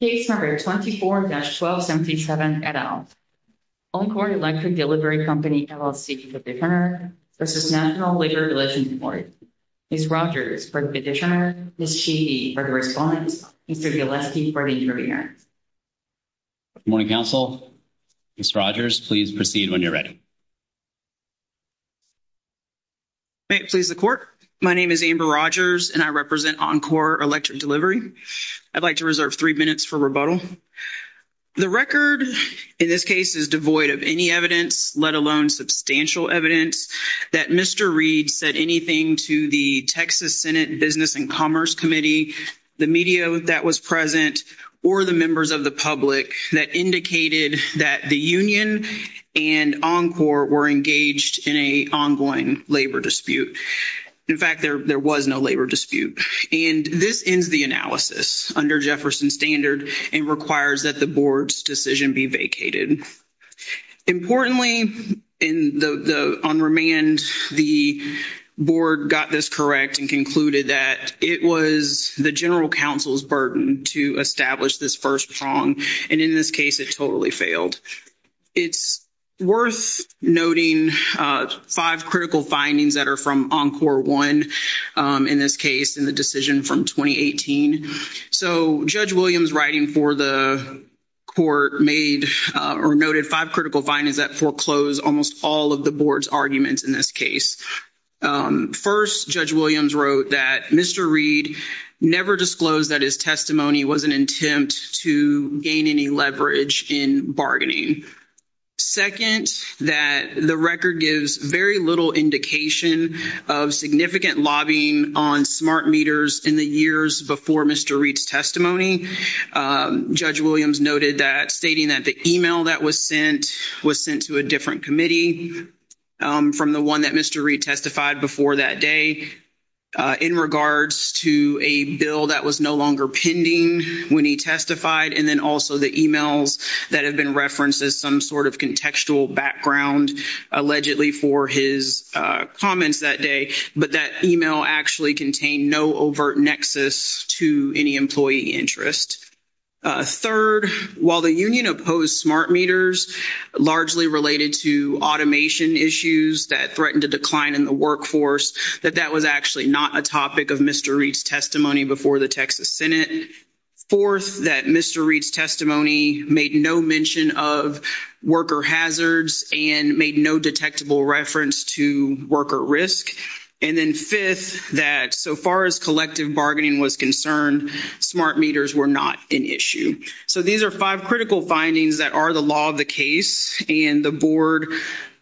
Case number 24-1277 et al. Encor Electric Delivery Company LLC v. National Labor Relations Court, Ms. Rogers for the petitioner, Ms. Sheehy for the respondent, and Mr. Gillespie for the interviewer. Good morning, counsel. Ms. Rogers, please proceed when you're ready. May it please the court. My name is Amber Rogers, and I represent Encor Electric Delivery. I'd like to reserve three minutes for rebuttal. The record in this case is devoid of any evidence, let alone substantial evidence, that Mr. Reed said anything to the Texas Senate Business and Commerce Committee, the media that was present, or the members of the public that indicated that the union and Encor were engaged in an ongoing labor dispute. In fact, there was no labor dispute, and this ends the analysis under Jefferson standard and requires that the board's decision be vacated. Importantly, on remand, the board got this correct and concluded that it was the general counsel's burden to establish this first prong, and in this case, it totally failed. It's worth noting five critical findings that are from Encor 1, in this case, in the decision from 2018. So, Judge Williams' writing for the court made or noted five critical findings that foreclose almost all of the board's arguments in this case. First, Judge Williams wrote that Mr. Reed never disclosed that his testimony was an attempt to gain any leverage in bargaining. Second, that the record gives very little indication of significant lobbying on smart meters in the years before Mr. Reed's testimony. Judge Williams noted that, stating that the email that was sent was sent to a different committee from the one that Mr. Reed testified before that day, in regards to a bill that was no longer pending when he testified, and then also the emails that have been referenced as some sort of contextual background, allegedly, for his comments that day. But that email actually contained no overt nexus to any employee interest. Third, while the union opposed smart meters, largely related to automation issues that threatened to decline in the workforce, that that was actually not a topic of Mr. Reed's testimony before the Texas Senate. Fourth, that Mr. Reed's testimony made no mention of worker hazards and made no detectable reference to worker risk. And then fifth, that so far as collective bargaining was concerned, smart meters were not an issue. So, these are five critical findings that are the law of the case, and the board,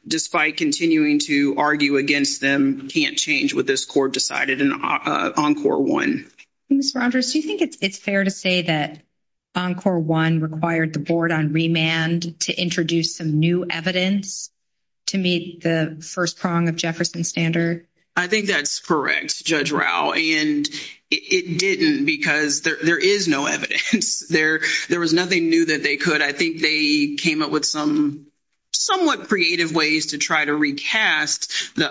despite continuing to argue against them, can't change what this court decided in Encore 1. Ms. Rodgers, do you think it's fair to say that Encore 1 required the board on remand to introduce some new evidence to meet the first prong of Jefferson's standard? I think that's correct, Judge Rao, and it didn't because there is no evidence. There was nothing new that they could. I think they came up with some somewhat creative ways to try to recast the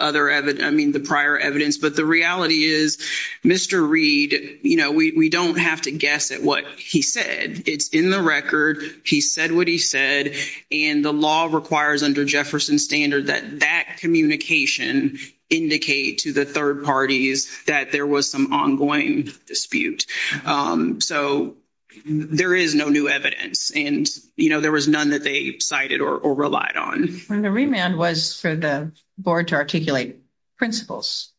prior evidence. But the reality is, Mr. Reed, we don't have to guess at what he said. It's in the record. He said what he said, and the law requires under Jefferson's standard that that communication indicate to the third parties that there was some ongoing dispute. So, there is no new evidence and, you know, there was none that they cited or relied on. The remand was for the board to articulate principles,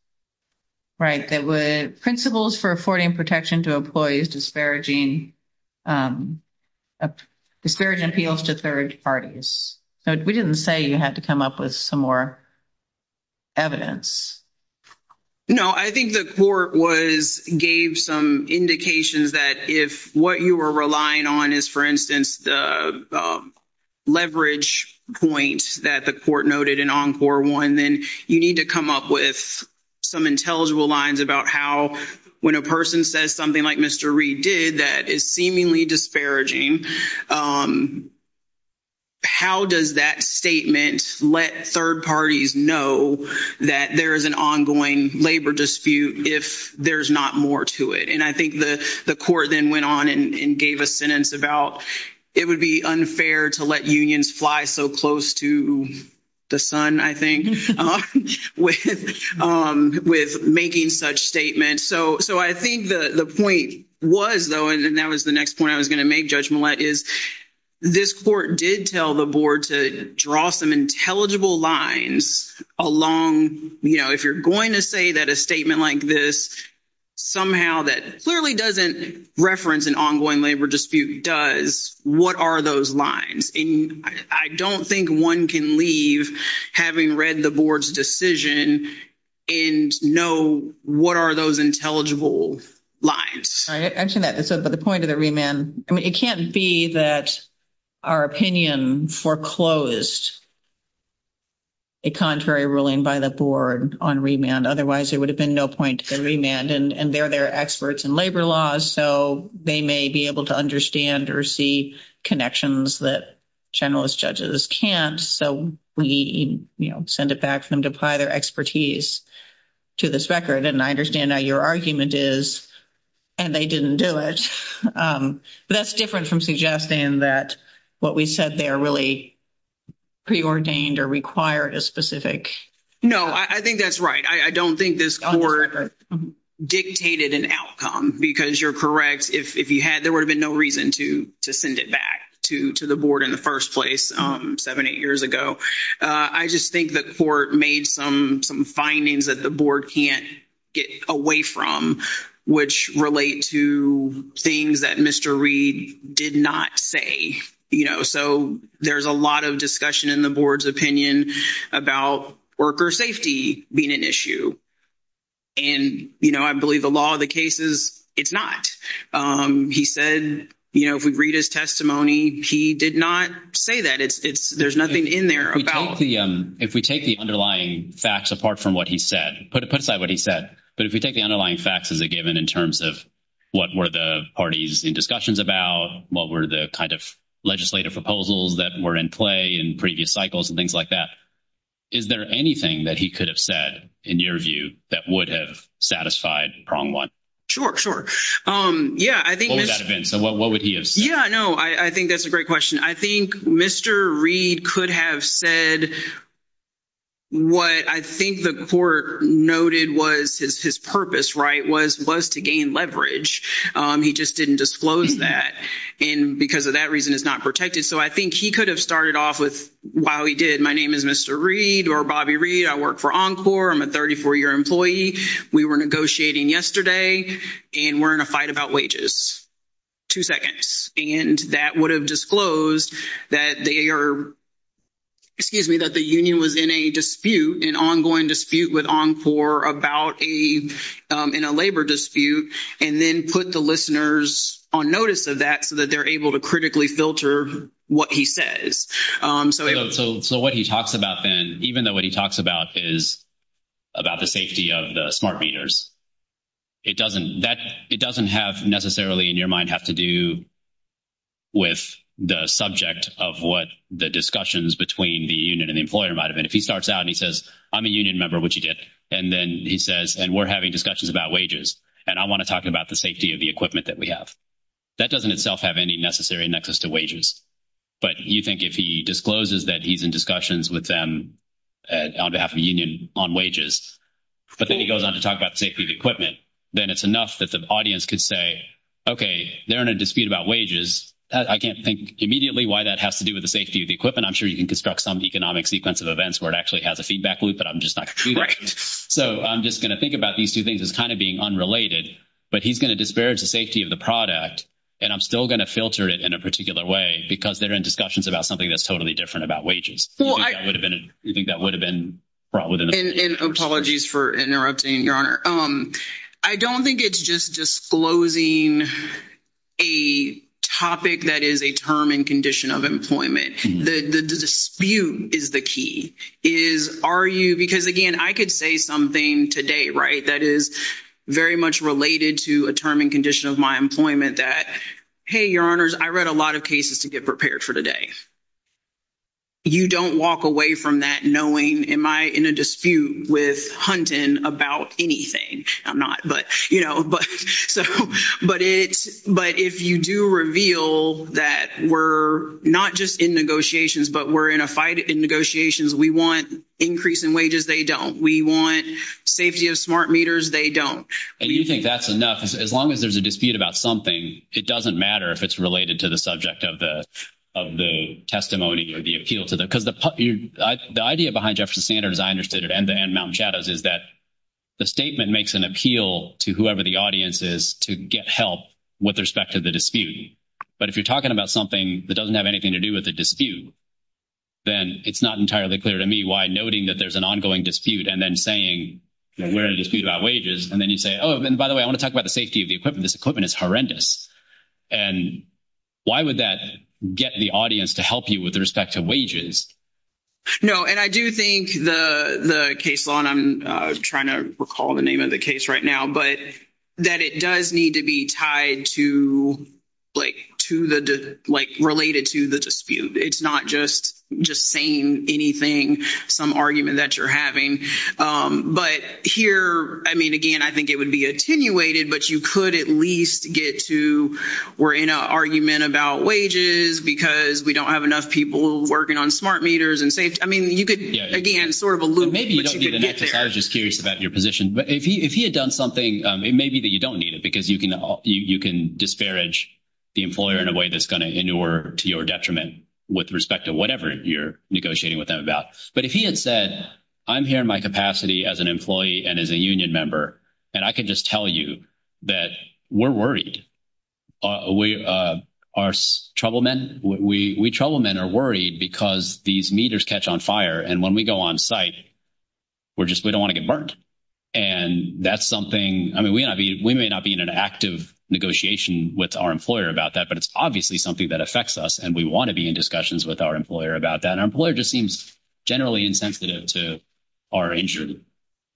right? There were principles for affording protection to employees disparaging, disparaging appeals to third parties. So, we didn't say you had to come up with some more evidence. No, I think the court gave some indications that if what you were relying on is, for instance, the leverage point that the court noted in Encore 1, then you need to come up with some intelligible lines about how, when a person says something like Mr. Reed did, that is seemingly disparaging. How does that statement let third parties know that there is an ongoing labor dispute if there's not more to it? And I think the court then went on and gave a sentence about it would be unfair to let unions fly so close to the sun, I think, with making such statements. So, I think the point was, though, and that was the next point I was going to make, Judge Millett, is this court did tell the board to draw some intelligible lines along, you know, if you're going to say that a statement like this somehow that clearly doesn't reference an ongoing labor dispute does, what are those lines? And I don't think one can leave having read the board's decision and know what are those intelligible lines. I mentioned that, but the point of the remand, I mean, it can't be that our opinion foreclosed a contrary ruling by the board on remand. So, we, you know, send it back for them to apply their expertise to this record. And I understand how your argument is, and they didn't do it. But that's different from suggesting that what we said there really preordained or required a specific. No, I think that's right. I don't think this court dictated an outcome, because you're correct. If you had, there would have been no reason to send it back to the board in the first place seven, eight years ago. I just think the court made some findings that the board can't get away from, which relate to things that Mr. Reed did not say. You know, so there's a lot of discussion in the board's opinion about worker safety being an issue. And, you know, I believe the law of the cases, it's not. He said, you know, if we read his testimony, he did not say that. There's nothing in there about. If we take the underlying facts apart from what he said, put aside what he said. But if we take the underlying facts as a given in terms of what were the parties in discussions about? What were the kind of legislative proposals that were in play in previous cycles and things like that? Is there anything that he could have said, in your view, that would have satisfied prong one? Sure, sure. Yeah, I think. So what would he have said? Yeah, no, I think that's a great question. I think Mr. Reed could have said. What I think the court noted was his purpose, right? Was was to gain leverage. He just didn't disclose that. And because of that reason, it's not protected. So I think he could have started off with while he did. My name is Mr. Reed or Bobby Reed. I work for Encore. I'm a 34 year employee. We were negotiating yesterday and we're in a fight about wages. Two seconds. And that would have disclosed that they are. Excuse me, that the union was in a dispute, an ongoing dispute with Encore about a in a labor dispute. And then put the listeners on notice of that so that they're able to critically filter what he says. So what he talks about, then, even though what he talks about is about the safety of the smart meters. It doesn't that it doesn't have necessarily in your mind have to do. With the subject of what the discussions between the union and the employer might have been, if he starts out and he says, I'm a union member, which he did. And then he says, and we're having discussions about wages, and I want to talk about the safety of the equipment that we have. That doesn't itself have any necessary nexus to wages, but you think if he discloses that he's in discussions with them. On behalf of union on wages, but then he goes on to talk about the safety of equipment. Then it's enough that the audience could say, okay, they're in a dispute about wages. I can't think immediately why that has to do with the safety of the equipment. I'm sure you can construct some economic sequence of events where it actually has a feedback loop, but I'm just not correct. So, I'm just going to think about these 2 things is kind of being unrelated, but he's going to disparage the safety of the product. And I'm still going to filter it in a particular way, because they're in discussions about something that's totally different about wages. Well, I would have been you think that would have been brought within apologies for interrupting your honor. I don't think it's just disclosing a topic that is a term and condition of employment. The dispute is the key is are you because again, I could say something today, right? That is very much related to a term and condition of my employment that, hey, your honors, I read a lot of cases to get prepared for today. You don't walk away from that knowing am I in a dispute with hunting about anything? I'm not, but if you do reveal that we're not just in negotiations, but we're in a fight in negotiations, we want increase in wages. They don't we want safety of smart meters. They don't and you think that's enough as long as there's a dispute about something. It doesn't matter if it's related to the subject of the of the testimony or the appeal to the, because the idea behind Jefferson standards, I understood it. And then mountain shadows is that the statement makes an appeal to whoever the audience is to get help with respect to the dispute. But if you're talking about something that doesn't have anything to do with the dispute. Then it's not entirely clear to me why noting that there's an ongoing dispute and then saying, we're in a dispute about wages. And then you say, oh, and by the way, I want to talk about the safety of the equipment. This equipment is horrendous. And why would that get the audience to help you with respect to wages? No, and I do think the case on I'm trying to recall the name of the case right now, but that it does need to be tied to. Like, to the related to the dispute, it's not just just saying anything, some argument that you're having, but here, I mean, again, I think it would be attenuated, but you could at least get to. We're in an argument about wages, because we don't have enough people working on smart meters and say, I mean, you could again, sort of a loop. I was just curious about your position, but if he had done something, it may be that you don't need it because you can you can disparage the employer in a way that's going to inure to your detriment with respect to whatever you're negotiating with them about. But if he had said, I'm here in my capacity as an employee and as a union member, and I can just tell you that we're worried. We are trouble men, we trouble men are worried because these meters catch on fire. And when we go on site, we're just we don't want to get burned. And that's something I mean, we may not be in an active negotiation with our employer about that, but it's obviously something that affects us. And we want to be in discussions with our employer about that. Our employer just seems generally insensitive to our injury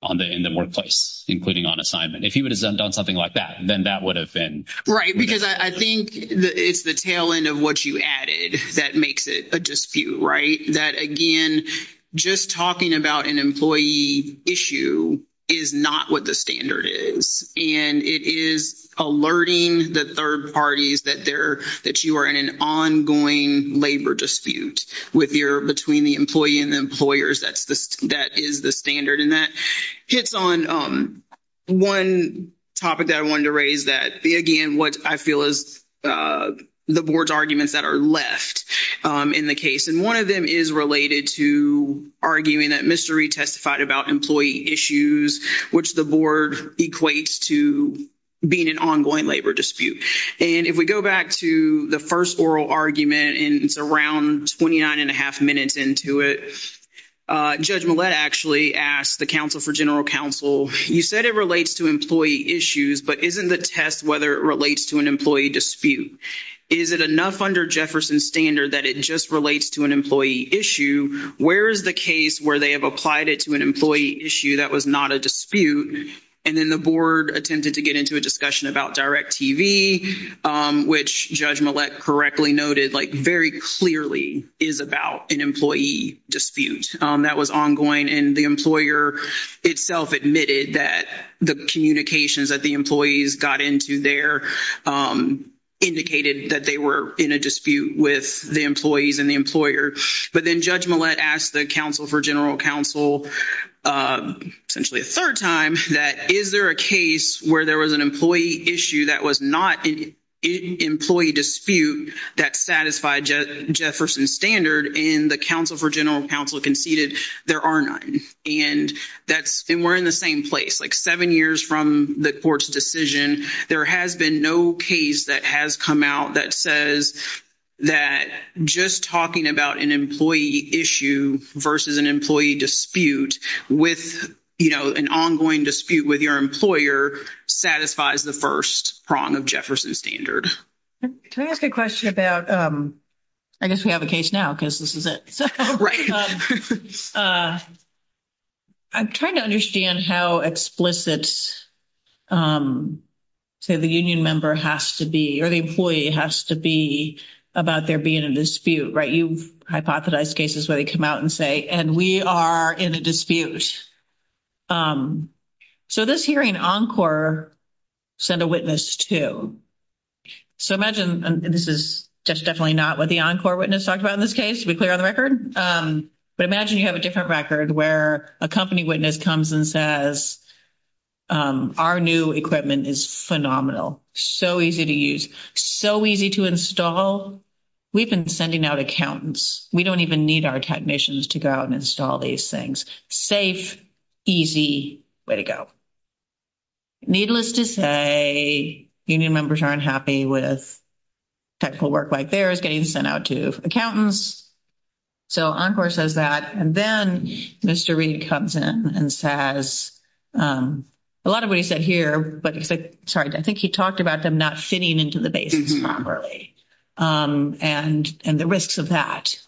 on the in the workplace, including on assignment. If he would have done something like that, then that would have been right. Because I think it's the tail end of what you added that makes it a dispute, right? That again, just talking about an employee issue is not what the standard is. And it is alerting the third parties that they're that you are in an ongoing labor dispute with your between the employee and employers. That's the that is the standard and that hits on 1 topic that I wanted to raise that again, what I feel is the board's arguments that are left in the case. And 1 of them is related to arguing that mystery testified about employee issues, which the board equates to being an ongoing labor dispute. And if we go back to the 1st, oral argument, and it's around 29 and a half minutes into it. Judge actually asked the counsel for general counsel. You said it relates to employee issues, but isn't the test whether it relates to an employee dispute. Is it enough under Jefferson standard that it just relates to an employee issue? Where is the case where they have applied it to an employee issue? That was not a dispute. And then the board attempted to get into a discussion about direct TV, which judge correctly noted, like, very clearly is about an employee dispute that was ongoing. And the employer itself admitted that the communications that the employees got into there indicated that they were in a dispute with the employees and the employer. But then judge asked the counsel for general counsel essentially a 3rd time that is there a case where there was an employee issue that was not an employee dispute that satisfied Jefferson standard in the counsel for general counsel conceded there are 9. And that's been, we're in the same place, like, 7 years from the court's decision. There has been no case that has come out that says that just talking about an employee issue versus an employee dispute with an ongoing dispute with your employer satisfies the 1st prong of Jefferson standard. Can I ask a question about, I guess we have a case now, because this is it. I'm trying to understand how explicit say, the union member has to be, or the employee has to be about there being a dispute, right? You've hypothesized cases where they come out and say, and we are in a dispute. So, this hearing on core send a witness to. So, imagine this is just definitely not what the on core witness talked about in this case to be clear on the record. But imagine you have a different record where a company witness comes and says. Our new equipment is phenomenal. So easy to use so easy to install. We've been sending out accountants. We don't even need our technicians to go out and install these things safe. Easy way to go needless to say, union members aren't happy with. Technical work, like, there is getting sent out to accountants. So, of course, as that, and then Mr. Reid comes in and says. A lot of what he said here, but sorry, I think he talked about them not fitting into the basis properly. And and the risks of that,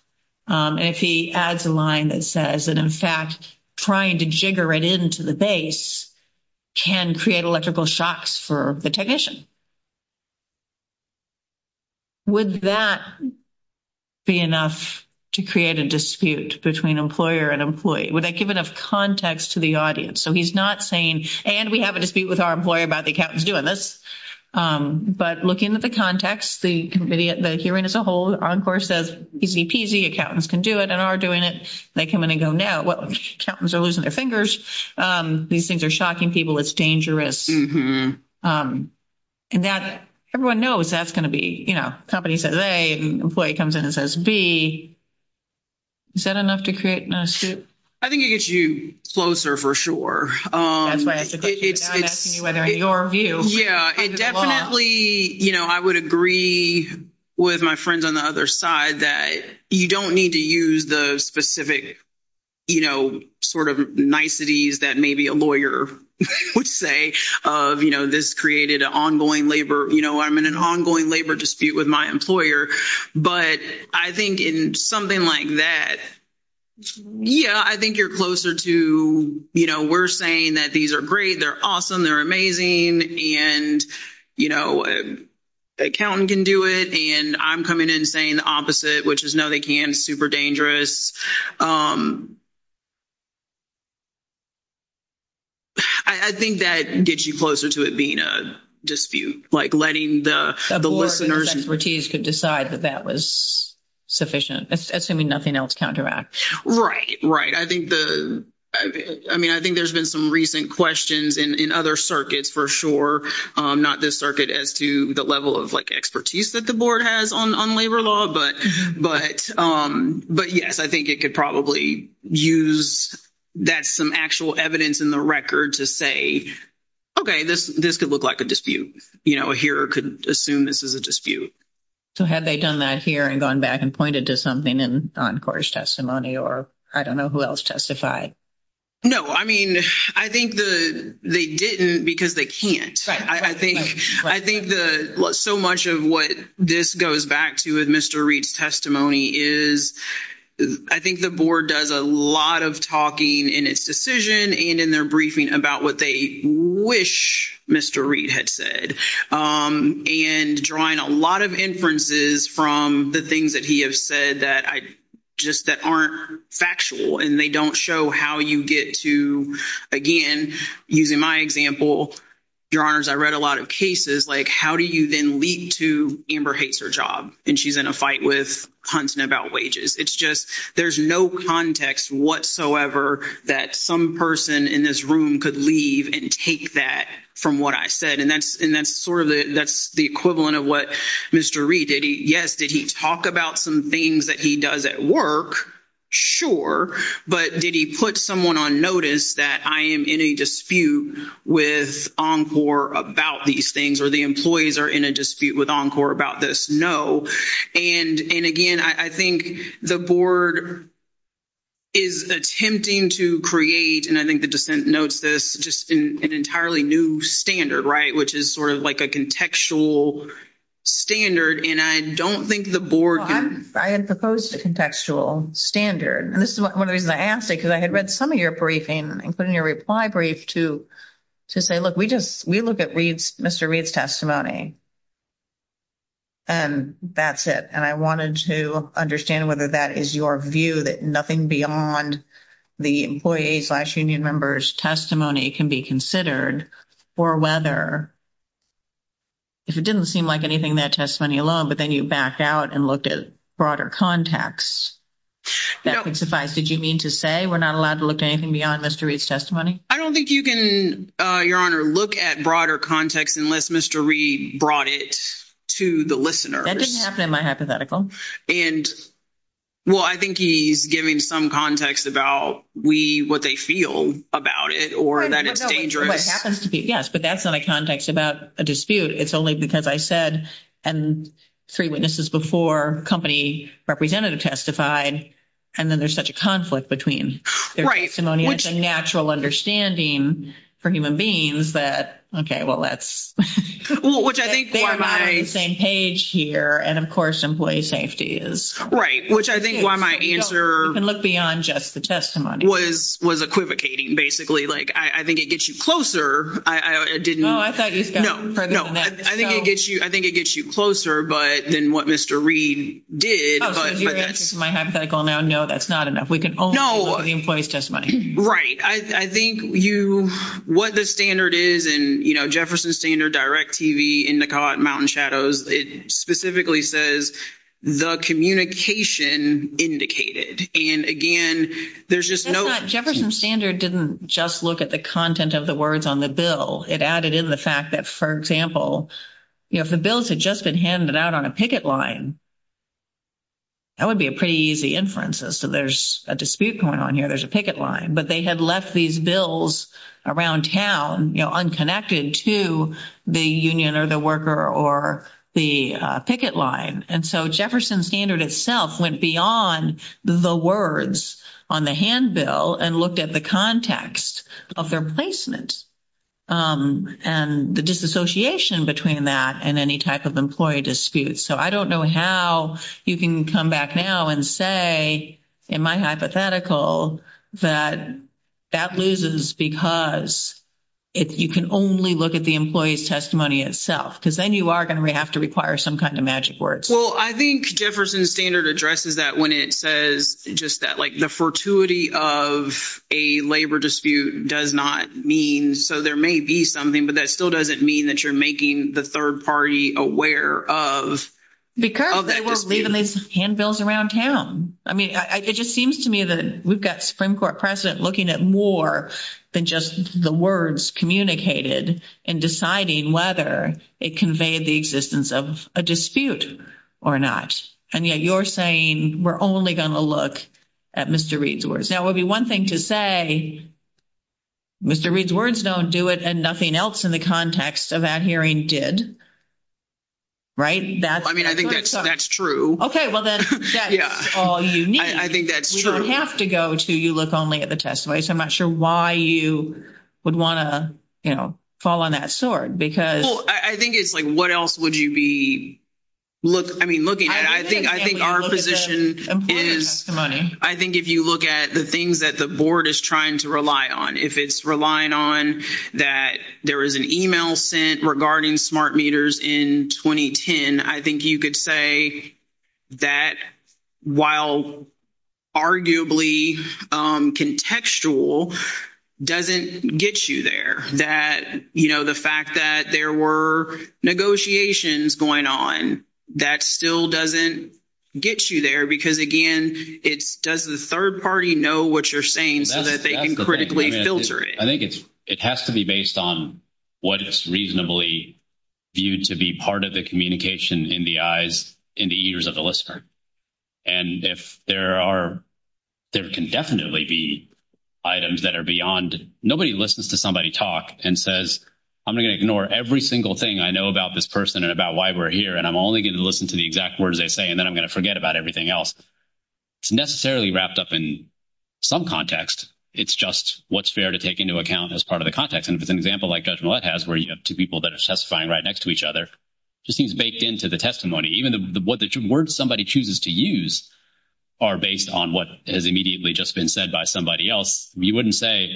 and if he adds a line that says that, in fact, trying to jigger it into the base. Can create electrical shocks for the technician. Would that be enough to create a dispute between employer and employee? Would that give enough context to the audience? So, he's not saying, and we have a dispute with our employer about the accountants doing this, but look into the context. The committee, the hearing as a whole, of course, as easy peasy accountants can do it and are doing it. They come in and go now accountants are losing their fingers. These things are shocking people. It's dangerous. And that everyone knows that's going to be, you know, company says, hey, employee comes in and says B. Is that enough to create an issue? I think it gets you closer for sure. That's why I'm asking you whether in your view. Yeah, it definitely I would agree with my friends on the other side that you don't need to use the specific. You know, sort of niceties that maybe a lawyer would say of, you know, this created an ongoing labor. I'm in an ongoing labor dispute with my employer, but I think in something like that. Yeah, I think you're closer to, you know, we're saying that these are great. They're awesome. They're amazing. And, you know. Accountant can do it, and I'm coming in saying the opposite, which is no, they can super dangerous. I think that gets you closer to it being a dispute, like, letting the listeners expertise could decide that that was sufficient, assuming nothing else counteract. Right? Right. I think the, I mean, I think there's been some recent questions in other circuits for sure. Not this circuit as to the level of expertise that the board has on labor law, but, but, but, yes, I think it could probably use. That's some actual evidence in the record to say. Okay, this, this could look like a dispute here could assume this is a dispute. So, had they done that here and gone back and pointed to something and on course testimony, or I don't know who else testified. No, I mean, I think the they didn't because they can't I think I think the so much of what this goes back to with Mr. Reed's testimony is. I think the board does a lot of talking in its decision and in their briefing about what they wish Mr. Reed had said and drawing a lot of inferences from the things that he has said that I just that aren't factual and they don't show how you get to again, using my example. Your honors I read a lot of cases, like, how do you then lead to Amber hates her job and she's in a fight with hunting about wages. It's just there's no context whatsoever that some person in this room could leave and take that from what I said. And that's and that's sort of the, that's the equivalent of what Mr. Reed did. Yes. Did he talk about some things that he does at work? Sure, but did he put someone on notice that I am in a dispute with encore about these things, or the employees are in a dispute with encore about this? No. And and again, I think the board is attempting to create and I think the descent notes this just an entirely new standard, right? Which is sort of like a contextual standard. And I don't think the board, I had proposed a contextual standard and this is 1 of the reasons I asked it because I had read some of your briefing and put in your reply brief to to say, look, we just we look at reads Mr. Reed's testimony. And that's it and I wanted to understand whether that is your view that nothing beyond. The employees last union members testimony can be considered for whether. If it didn't seem like anything that testimony alone, but then you backed out and looked at broader context. That would suffice did you mean to say we're not allowed to look at anything beyond Mr. Reed's testimony? I don't think you can your honor look at broader context unless Mr. Reed brought it to the listeners. That didn't happen in my hypothetical and. Well, I think he's giving some context about we, what they feel about it, or that it's dangerous happens to be. Yes, but that's not a context about a dispute. It's only because I said, and 3 witnesses before company representative testified. And then there's such a conflict between their testimony, which a natural understanding for human beings that. Okay. Well, that's what I think the same page here. And of course, employee safety is right, which I think why my answer and look beyond just the testimony was was equivocating. Basically. Like, I think it gets you closer. I didn't know. I thought he's no, no, I think it gets you. I think it gets you closer. But then what Mr. Reed did my hypothetical now? No, that's not enough. We can only know the employee's testimony. Right? I think you what the standard is and Jefferson standard direct TV in the mountain shadows. It specifically says the communication indicated and again, there's just Jefferson standard. Didn't just look at the content of the words on the bill. It added in the fact that, for example, if the bills had just been handed out on a picket line. That would be a pretty easy inferences. So there's a dispute going on here. There's a picket line, but they had left these bills around town, you know, unconnected to the union or the worker or the picket line. And so Jefferson standard itself went beyond the words on the hand bill and looked at the context of their placement. And the disassociation between that and any type of employee disputes. So, I don't know how you can come back now and say, in my hypothetical that that loses because. If you can only look at the employee's testimony itself, because then you are going to have to require some kind of magic words. Well, I think Jefferson standard addresses that when it says just that, like, the fortuity of a labor dispute does not mean. So there may be something, but that still doesn't mean that you're making the 3rd party aware of because they will leave in these handbills around town. I mean, it just seems to me that we've got Supreme Court precedent looking at more than just the words communicated and deciding whether it conveyed the existence of a dispute or not. And yet you're saying we're only going to look at Mr. Reid's words. Now, it would be 1 thing to say, Mr. Reid's words. Don't do it. And nothing else in the context of that hearing did. Right that I mean, I think that's that's true. Okay. Well, then that's all you need. I think that's true. You don't have to go to you look only at the testimony. So I'm not sure why you would want to fall on that sword because I think it's like, what else would you be. Look, I mean, looking at, I think I think our position is money. I think if you look at the things that the board is trying to rely on, if it's relying on that, there is an email sent regarding smart meters in 2010. I think you could say. That while arguably contextual. Doesn't get you there that, you know, the fact that there were negotiations going on, that still doesn't get you there because again, it's does the 3rd party know what you're saying? So that they can critically filter it. I think it's, it has to be based on what it's reasonably viewed to be part of the communication in the eyes in the ears of the listener. And if there are, there can definitely be items that are beyond nobody listens to somebody talk and says, I'm going to ignore every single thing I know about this person and about why we're here. And I'm only going to listen to the exact words. They say, and then I'm going to forget about everything else. It's necessarily wrapped up in some context. It's just what's fair to take into account as part of the context. And if it's an example, like, judgment has where you have 2 people that are testifying right next to each other. Just seems baked into the testimony, even the words somebody chooses to use are based on what has immediately just been said by somebody else. We wouldn't say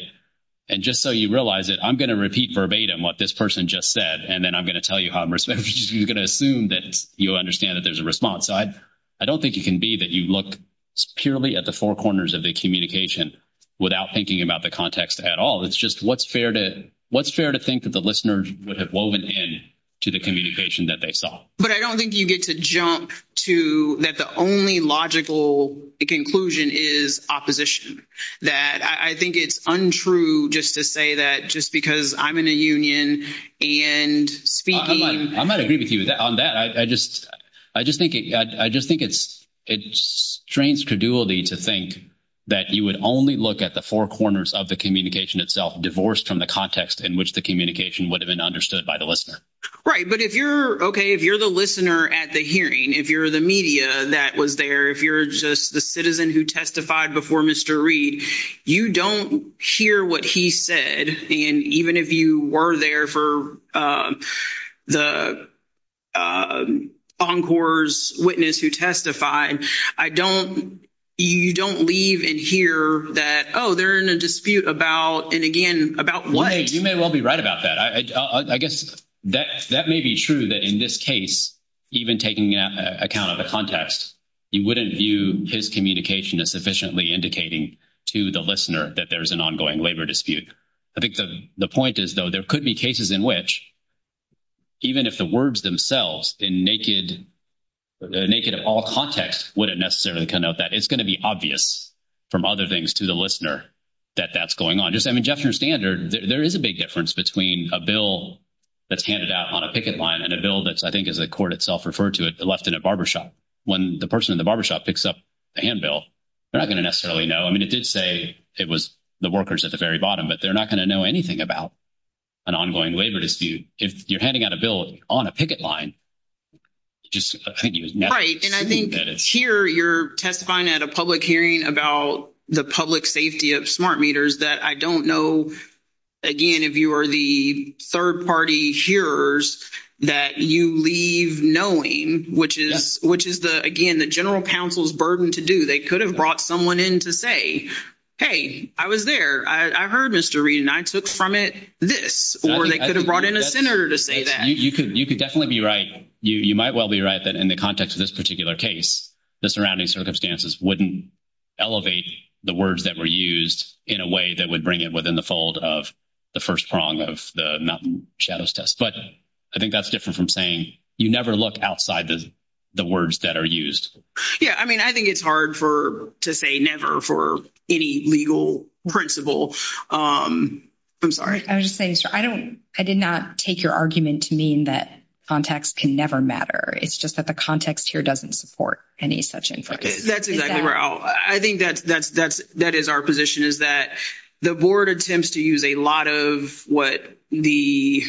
and just so you realize it, I'm going to repeat verbatim what this person just said. And then I'm going to tell you how I'm going to assume that you understand that there's a response. I, I don't think it can be that you look purely at the 4 corners of the communication without thinking about the context at all. It's just what's fair to what's fair to think that the listeners would have woven in to the communication that they saw, but I don't think you get to jump to that. The only logical conclusion is opposition that I think it's untrue. Just to say that just because I'm in a union and speaking, I might agree with you on that. Yeah, I just, I just think I just think it's, it strains credulity to think that you would only look at the 4 corners of the communication itself, divorced from the context in which the communication would have been understood by the listener, right? But if you're okay, if you're the listener at the hearing, if you're the media that was there, if you're just the citizen who testified before Mr. Reed, you don't hear what he said. And even if you were there for the. Encores witness who testified, I don't. You don't leave and hear that. Oh, they're in a dispute about and again about what you may well be right about that. I, I guess that that may be true that in this case. Even taking account of the context, you wouldn't view his communication as sufficiently indicating to the listener that there's an ongoing labor dispute. I think the, the point is, though, there could be cases in which. Even if the words themselves in naked. Naked of all context, would it necessarily come out that it's going to be obvious from other things to the listener. That that's going on, just, I mean, Jeff standard, there is a big difference between a bill that's handed out on a picket line and a bill that's, I think, as the court itself referred to it, the left in a barbershop when the person in the barbershop picks up a handbill. They're not going to necessarily know. I mean, it did say it was the workers at the very bottom, but they're not going to know anything about an ongoing labor dispute. If you're handing out a bill on a picket line. Just, I think, and I think here you're testifying at a public hearing about the public safety of smart meters that I don't know. Again, if you are the 3rd party here's that you leave knowing, which is, which is the again, the general counsel's burden to do, they could have brought someone in to say. Hey, I was there, I heard Mr. Reed and I took from it this, or they could have brought in a center to say that you could, you could definitely be right. You might well be right. That in the context of this particular case, the surrounding circumstances wouldn't. Elevate the words that were used in a way that would bring it within the fold of. The 1st prong of the shadows test, but I think that's different from saying you never look outside the words that are used. Yeah, I mean, I think it's hard for to say never for any legal principle. I'm sorry, I was just saying, I don't I did not take your argument to mean that context can never matter. It's just that the context here doesn't support any such. That's exactly where I think that's that's that's that is our position is that the board attempts to use a lot of what the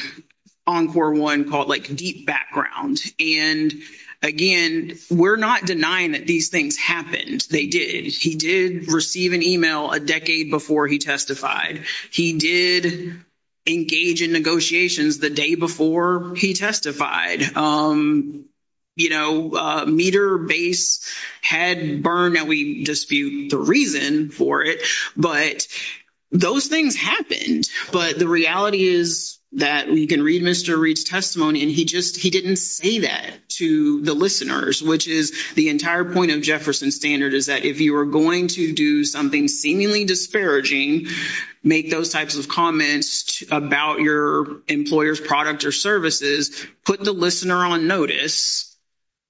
encore 1 called deep background. And again, we're not denying that these things happened. They did. He did receive an email a decade before he testified. He did engage in negotiations the day before he testified. You know, meter base had burn that we dispute the reason for it, but those things happened. But the reality is that we can read Mr. Reed's testimony. And he just, he didn't say that to the listeners, which is the entire point of Jefferson standard is that if you are going to do something seemingly disparaging, make those types of comments about your employer's product or services, put the leaders in the back of your mind. Put the listener on notice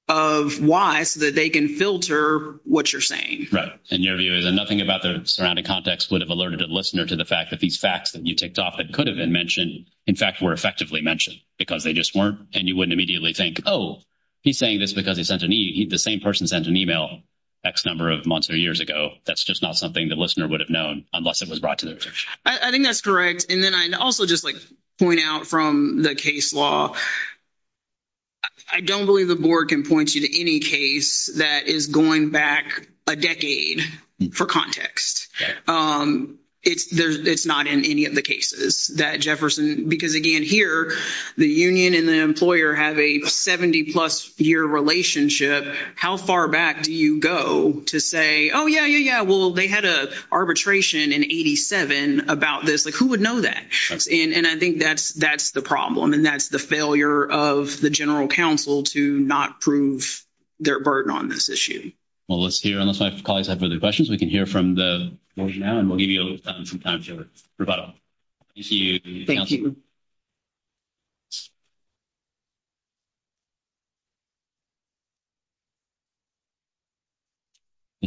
of why so that they can filter what you're saying. Right? And your view is nothing about the surrounding context would have alerted a listener to the fact that these facts that you ticked off. It could have been mentioned in fact, were effectively mentioned because they just weren't and you wouldn't immediately think, oh, he's saying this because he sent an e, the same person sent an email X, number of months or years ago. That's just not something that listener would have known unless it was brought to the I think that's correct. And then I also just point out from the case law. I don't believe the board can point you to any case that is going back a decade for context. It's, it's not in any of the cases that Jefferson, because again, here, the union and the employer have a 70 plus year relationship. How far back do you go to say, oh, yeah, yeah, yeah. Well, they had a arbitration in 87 about this. Like, who would know that? And I think that's that's the problem. And that's the failure of the general counsel to not prove their burden on this issue. Well, let's hear unless my colleagues have further questions we can hear from the now and we'll give you a little time. Sometimes you're about to see you. Thank you.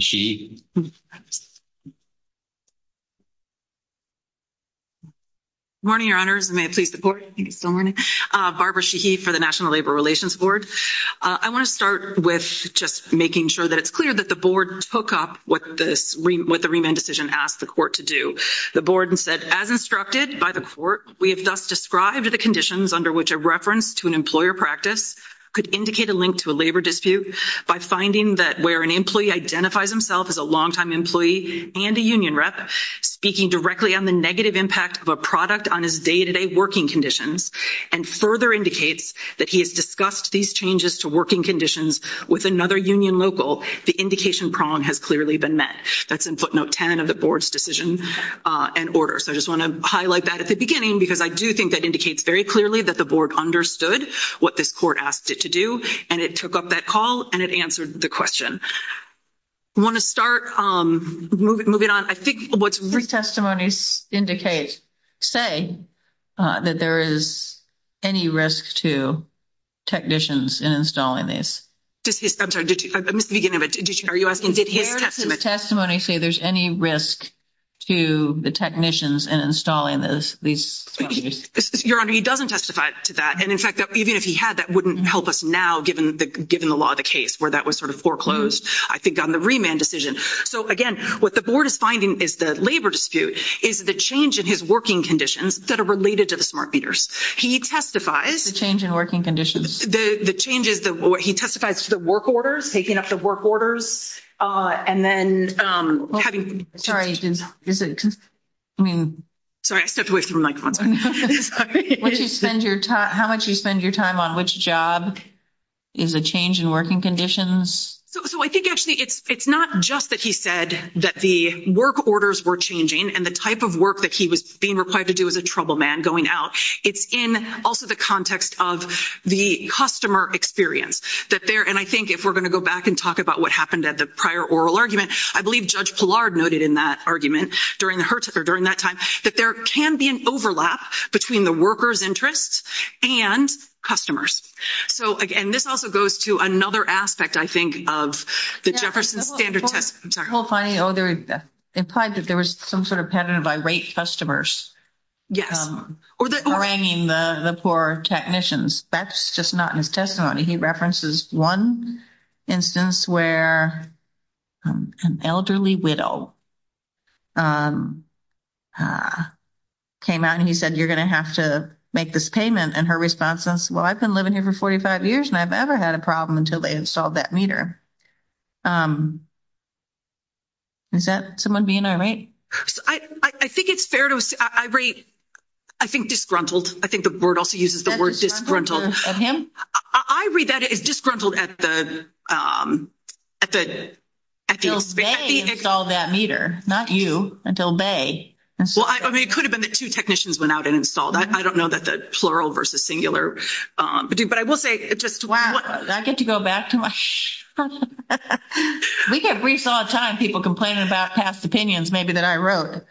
She. Morning, your honors may please the board. Thank you. So, Barbara, she, he, for the National Labor Relations Board. I want to start with just making sure that it's clear that the board took up what this with the remand decision asked the court to do the board and said, as instructed by the court. We have thus described the conditions under which a reference to an employer practice could indicate a link to a labor dispute by finding that where an employee identifies himself as a long time employee and a union rep speaking directly on the negative impact of a product on his day to day working conditions and further indicates that he has discussed these changes to working conditions with another union local. The indication prong has clearly been met. That's in footnote 10 of the board's decision and order. So, I just want to highlight that at the beginning, because I do think that indicates very clearly that the board understood what this court asked it to do and it took up that call and it answered the question. I want to start moving on. I think what's written testimonies indicate, say that there is any risk to technicians and installing this testimony. See, there's any risk to the technicians and installing this, these, your honor. He doesn't testify to that and in fact, even if he had, that wouldn't help us now, given the, given the law of the case where that was sort of foreclosed. I think on the remand decision. So, again, what the board is finding is the labor dispute is the change in his working conditions that are related to the smart meters. He testifies the change in working conditions. The changes that he testifies to the work orders, taking up the work orders and then having sorry, I mean, sorry, I stepped away from microphones. How much you spend your time on which job is a change in working conditions? So, so I think actually it's, it's not just that he said that the work orders were changing and the type of work that he was being required to do as a troubleman going out. It's in also the context of the customer experience that there, and I think if we're going to go back and talk about what happened at the prior oral argument, I believe Judge Pillard noted in that argument during the, or during that time that there can be an overlap between the worker's interests and customers. So, again, this also goes to another aspect, I think, of the Jefferson standard test. I'm sorry. Well, funny. Oh, they're implied that there was some sort of pattern of irate customers. Yes, or the, or, I mean, the, the poor technicians, that's just not in his testimony. He references 1. Instance where an elderly widow. Came out and he said, you're going to have to make this payment and her response is well, I've been living here for 45 years and I've ever had a problem until they installed that meter. Is that someone being right? I think it's fair to say I rate. I think disgruntled I think the board also uses the word disgruntled him. I read that is disgruntled at the. Um, at the, at the install that meter, not you until Bay. Well, I mean, it could have been the 2 technicians went out and installed. I don't know that the plural versus singular, but I will say it just I get to go back to my we get briefs all the time. People complaining about past opinions. Maybe that I wrote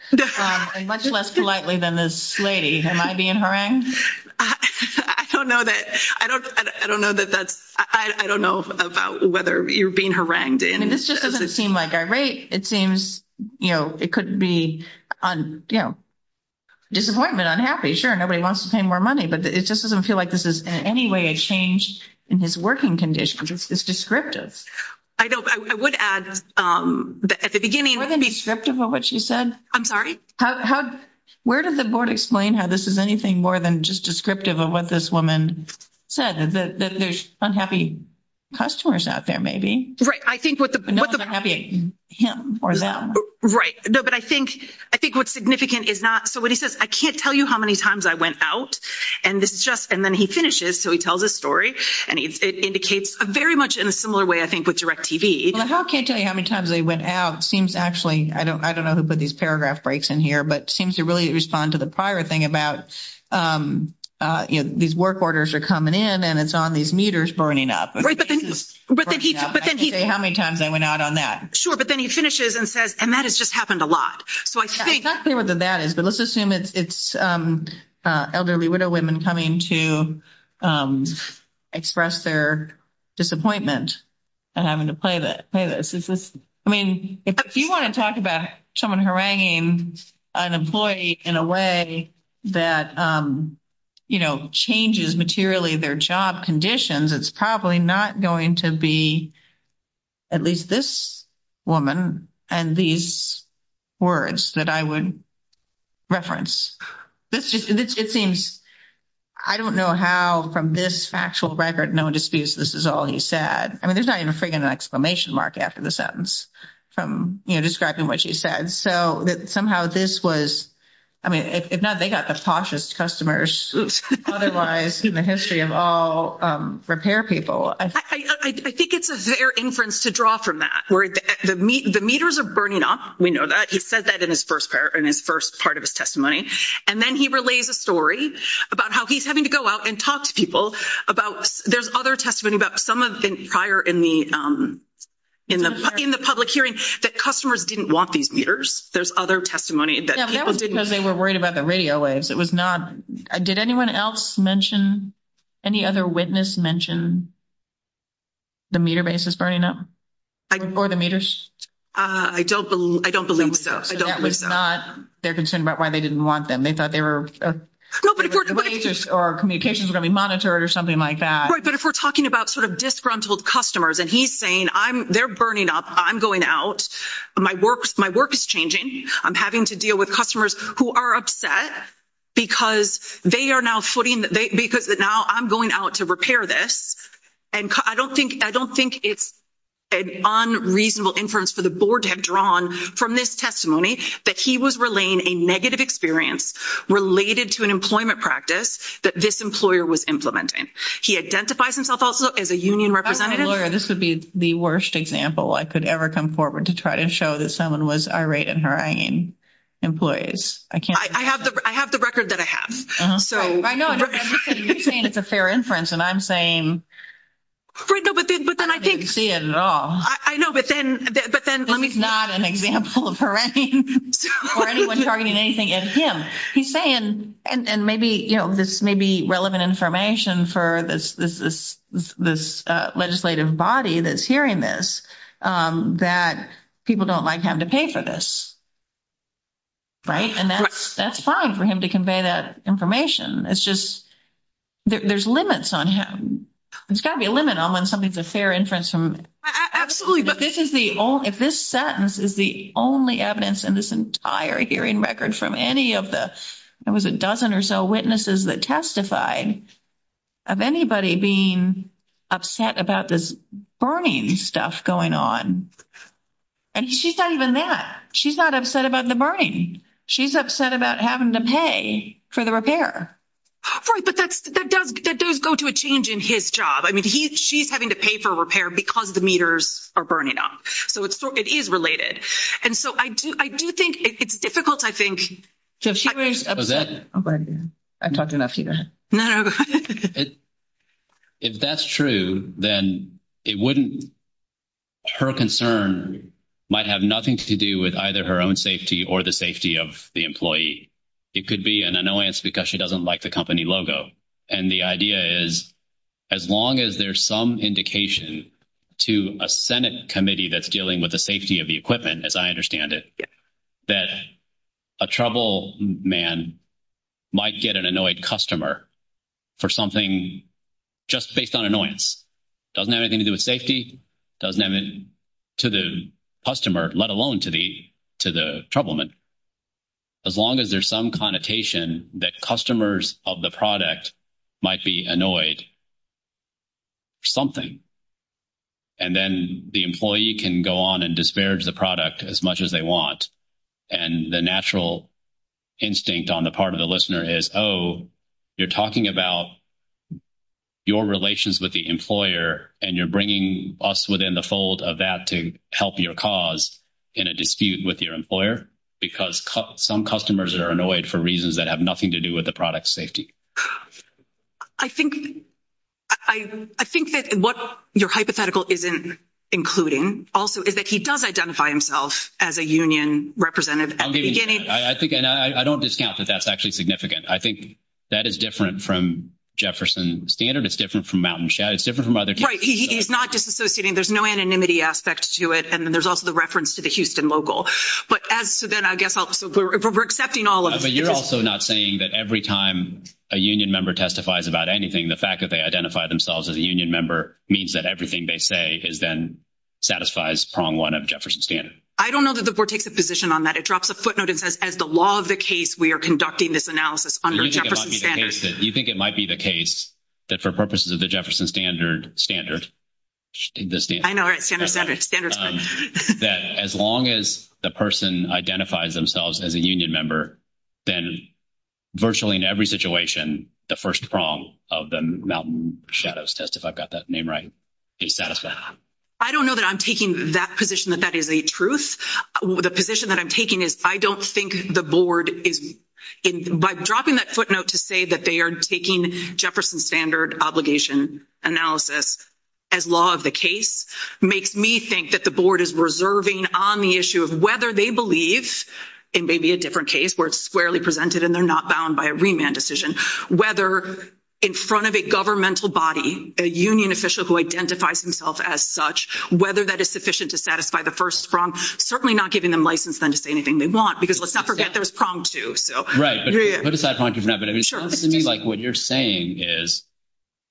much less politely than this lady. Am I being harangued? I don't know that I don't I don't know that that's I don't know about whether you're being harangued and this just doesn't seem like a rate. It seems, you know, it could be on, you know. Disappointment unhappy sure nobody wants to pay more money, but it just doesn't feel like this is any way I changed in his working conditions. It's descriptive. I don't I would add at the beginning of what she said. I'm sorry. How where did the board explain how this is anything more than just descriptive of what this woman said that there's unhappy customers out there? Maybe right? I think what the what the happy him or them. Right? No, but I think I think what's significant is not. So what he says, I can't tell you how many times I went out and this is just and then he finishes. So he tells a story and it indicates a very much in a similar way. I think with direct TV, how can't tell you how many times they went out seems actually I don't I don't know who put these paragraph breaks in. Here, but seems to really respond to the prior thing about these work orders are coming in and it's on these meters burning up. Right? But then he, but then he say, how many times I went out on that? Sure. But then he finishes and says, and that has just happened a lot. So, I think that that is, but let's assume it's, it's elderly widow women coming to express their disappointment and having to play that play. I mean, if you want to talk about someone haranguing an employee in a way that, you know, changes materially their job conditions, it's probably not going to be. At least this woman and these. Words that I would reference this, it seems. I don't know how from this factual record, no disputes. This is all he said. I mean, there's not even a freaking exclamation mark after the sentence from describing what she said. So that somehow this was. I mean, if not, they got the poshest customers otherwise in the history of all repair people. I think it's a fair inference to draw from that where the meters are burning up. We know that he said that in his 1st pair in his 1st part of his testimony and then he relays a story. About how he's having to go out and talk to people about there's other testimony about some of the prior in the. In the, in the public hearing that customers didn't want these meters, there's other testimony that people didn't because they were worried about the radio waves. It was not. Did anyone else mention. Any other witness mentioned the meter base is burning up. I, or the meters, I don't, I don't believe so. I don't. It's not their concern about why they didn't want them. They thought they were or communications are going to be monitored or something like that. Right? But if we're talking about sort of disgruntled customers, and he's saying, I'm, they're burning up, I'm going out. My work, my work is changing. I'm having to deal with customers who are upset. Because they are now footing because now I'm going out to repair this and I don't think I don't think it's. An unreasonable inference for the board to have drawn from this testimony that he was relaying a negative experience related to an employment practice that this employer was implementing. He identifies himself also as a union representative. This would be the worst example. I could ever come forward to try to show that someone was irate in her hanging employees. I can't I have the, I have the record that I have. So I know it's a fair inference and I'm saying. But then I think I know, but then, but then let me not an example of her or anyone targeting anything at him. He's saying, and maybe this may be relevant information for this. This is this legislative body. That's hearing this that people don't like have to pay for this. Right and that's that's fine for him to convey that information. It's just. There's limits on him. It's gotta be a limit on when something's a fair inference from absolutely. But this is the, if this sentence is the only evidence in this entire hearing record from any of the, it was a dozen or so witnesses that testified. Of anybody being upset about this burning stuff going on. And she's not even that she's not upset about the burning. She's upset about having to pay for the repair. Right, but that's that does that does go to a change in his job. I mean, he, she's having to pay for repair because the meters are burning up. So it's it is related. And so I do I do think it's difficult. I think. I talked enough here. If that's true, then it wouldn't. Her concern might have nothing to do with either her own safety or the safety of the employee. It could be an annoyance because she doesn't like the company logo. And the idea is. As long as there's some indication to a Senate committee, that's dealing with the safety of the equipment as I understand it. That a trouble man. Might get an annoyed customer for something. Just based on annoyance doesn't have anything to do with safety. Doesn't have it to the customer, let alone to the, to the trouble. Man, as long as there's some connotation that customers of the product. Might be annoyed something. And then the employee can go on and disparage the product as much as they want. And the natural instinct on the part of the listener is, oh, you're talking about. Your relations with the employer, and you're bringing us within the fold of that to help your cause. In a dispute with your employer, because some customers are annoyed for reasons that have nothing to do with the product safety. I think I, I think that what your hypothetical isn't. Including also is that he does identify himself as a union representative at the beginning. I think and I don't discount that. That's actually significant. I think. That is different from Jefferson standard. It's different from mountain. It's different from other. He's not disassociating. There's no anonymity aspect to it. And then there's also the reference to the Houston local. But as to then, I guess we're accepting all of it. But you're also not saying that every time a union member testifies about anything, the fact that they identify themselves as a union member means that everything they say is then. Satisfies prong 1 of Jefferson standard. I don't know that the board takes a position on that. It drops a footnote and says, as the law of the case, we are conducting this analysis under standard. You think it might be the case. That for purposes of the Jefferson standard standard. I know standard standards standards that as long as the person identifies themselves as a union member. Then, virtually in every situation, the 1st prong of the mountain shadows test, if I've got that name, right? Satisfied, I don't know that I'm taking that position that that is a truth. The position that I'm taking is, I don't think the board is by dropping that footnote to say that they are taking Jefferson standard obligation analysis. As law of the case makes me think that the board is reserving on the issue of whether they believe in maybe a different case where it's squarely presented and they're not bound by a remand decision, whether. In front of a governmental body, a union official who identifies himself as such, whether that is sufficient to satisfy the 1st, from certainly not giving them license, then to say anything they want, because let's not forget there's problem too. So, right? But put aside, but I mean, it sounds to me like what you're saying is.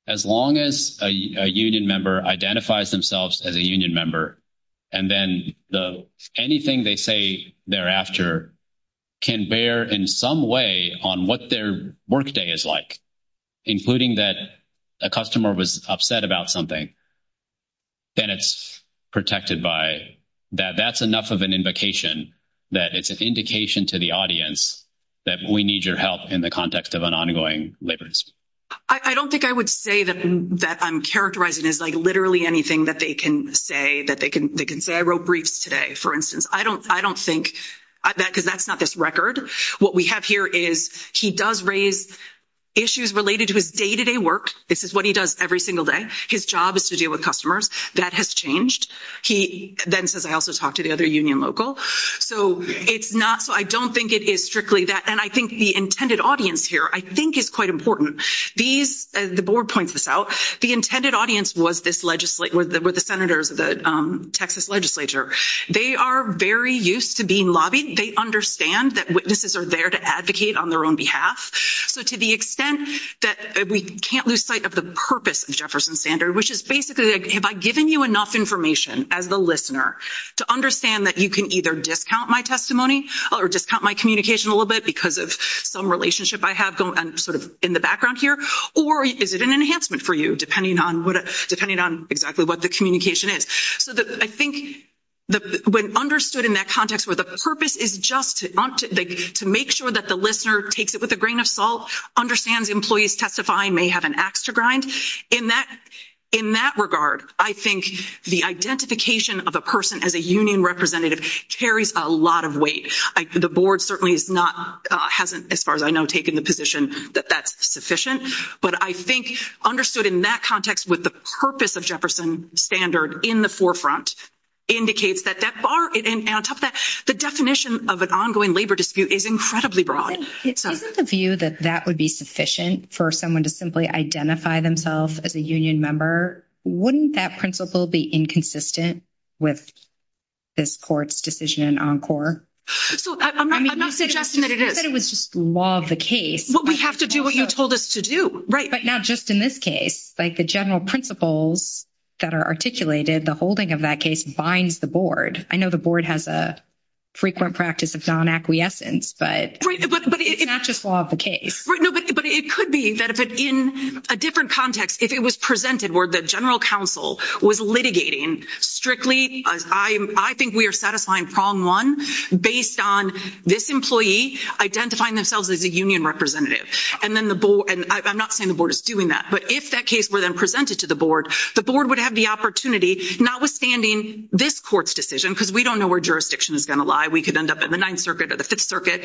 As long as a union member identifies themselves as a union member. And then the anything they say thereafter. Can bear in some way on what their workday is like. Including that a customer was upset about something. Then it's protected by that. That's enough of an invocation. That it's an indication to the audience that we need your help in the context of an ongoing labors. I don't think I would say that that I'm characterizing is literally anything that they can say that they can. They can say I wrote briefs today. For instance, I don't I don't think that because that's not this record. What we have here is he does raise issues related to his day to day work. This is what he does every single day. His job is to deal with customers. That has changed. He then says, I also talked to the other union local. So it's not so I don't think it is strictly that. And I think the intended audience here, I think, is quite important. These the board points this out. The intended audience was this legislate with the senators of the Texas legislature. They are very used to being lobby. They understand that witnesses are there to advocate on their own behalf. So, to the extent that we can't lose sight of the purpose of Jefferson standard, which is basically have I given you enough information as the listener to understand that you can either discount my testimony or discount my communication a little bit because of some relationship I have sort of in the background here or is it an enhancement for you, depending on what depending on exactly what the communication is so that I think when understood in that context, where the purpose is just to make sure that the listener takes it with a grain of salt. Understands employees testifying may have an axe to grind in that in that regard. I think the identification of a person as a union representative carries a lot of weight. The board certainly is not hasn't as far as I know, taking the position that that's sufficient, but I think understood in that context with the purpose of Jefferson standard in the forefront indicates that that bar and on top of that, the definition of an ongoing labor dispute is incredibly broad. It's the view that that would be sufficient for someone to simply identify themselves as a union member. Wouldn't that principle be inconsistent with. This court's decision on core, so I'm not suggesting that it was just love the case. What we have to do what you told us to do right now, just in this case, like, the general principles. That are articulated the holding of that case binds the board. I know the board has a. Frequent practice of non acquiescence, but it's not just law of the case, but it could be that if it in a different context, if it was presented, where the general counsel was litigating strictly, I think we are satisfying prong 1 based on this employee identifying themselves as a union representative. And then the and I'm not saying the board is doing that, but if that case were then presented to the board, the board would have the opportunity, notwithstanding this court's decision, because we don't know where jurisdiction is going to lie. We could end up in the 9th circuit or the 5th circuit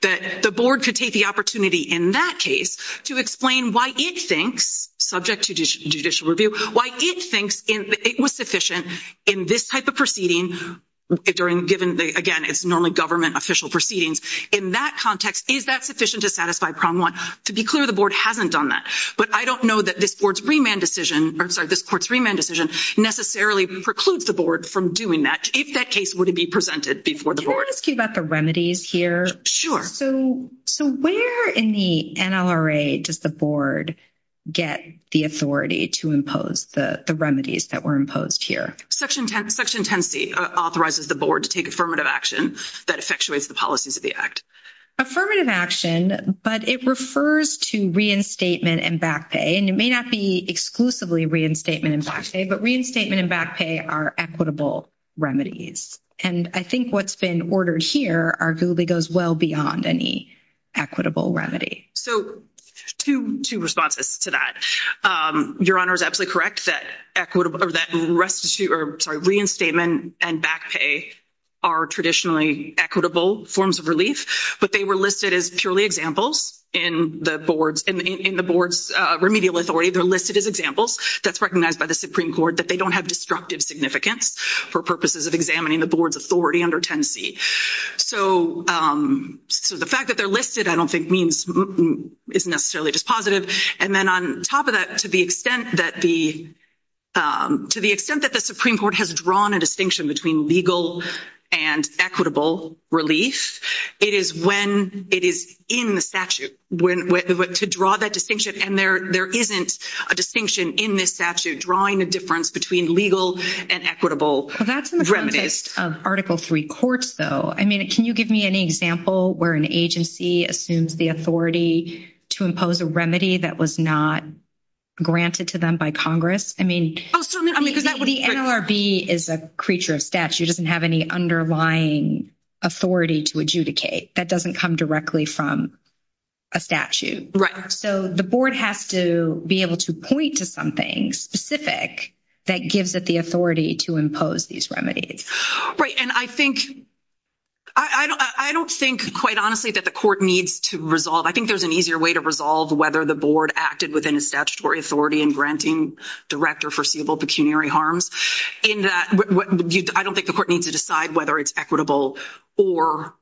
that the board could take the opportunity in that case to explain why it thinks subject to judicial review, why it thinks it was sufficient in this type of proceeding during given again, it's normally government official proceedings in that context. Is that sufficient to satisfy prong 1 to be clear? The board hasn't done that, but I don't know that this board's remand decision or this court's remand decision necessarily precludes the board from doing that. If that case would it be presented before the board about the remedies here? Sure. So, so where in the NLRA does the board get the authority to impose the remedies that were imposed here? Section section 10C authorizes the board to take affirmative action that effectuates the policies of the act. Affirmative action, but it refers to reinstatement and back pay, and it may not be exclusively reinstatement and back pay, but reinstatement and back pay are equitable remedies. And I think what's been ordered here arguably goes well beyond any equitable remedy. So, 2 responses to that. Your honor is absolutely correct that equitable or that restitute or sorry, reinstatement and back pay are traditionally equitable forms of relief, but they were listed as purely examples in the boards in the board's remedial authority. They're listed as examples that's recognized by the Supreme Court that they don't have destructive significance for purposes of examining the board's authority under 10C. So, so the fact that they're listed, I don't think means it's necessarily just positive. And then on top of that, to the extent that the, to the extent that the Supreme Court has drawn a distinction between legal and equitable relief, it is when it is in the statute when to draw that distinction. And there, there isn't a distinction in this statute drawing a difference between legal and equitable remedies of Article 3 courts, though. I mean, can you give me any example where an agency assumes the authority to impose a remedy that was not. Granted to them by Congress, I mean, because that would be is a creature of statute doesn't have any underlying authority to adjudicate that doesn't come directly from. A statute, right? So the board has to be able to point to something specific that gives it the authority to impose these remedies. Right? And I think. I don't, I don't think quite honestly that the court needs to resolve. I think there's an easier way to resolve whether the board acted within a statutory authority and granting director foreseeable pecuniary harms in that. But I don't think the court needs to decide whether it's equitable or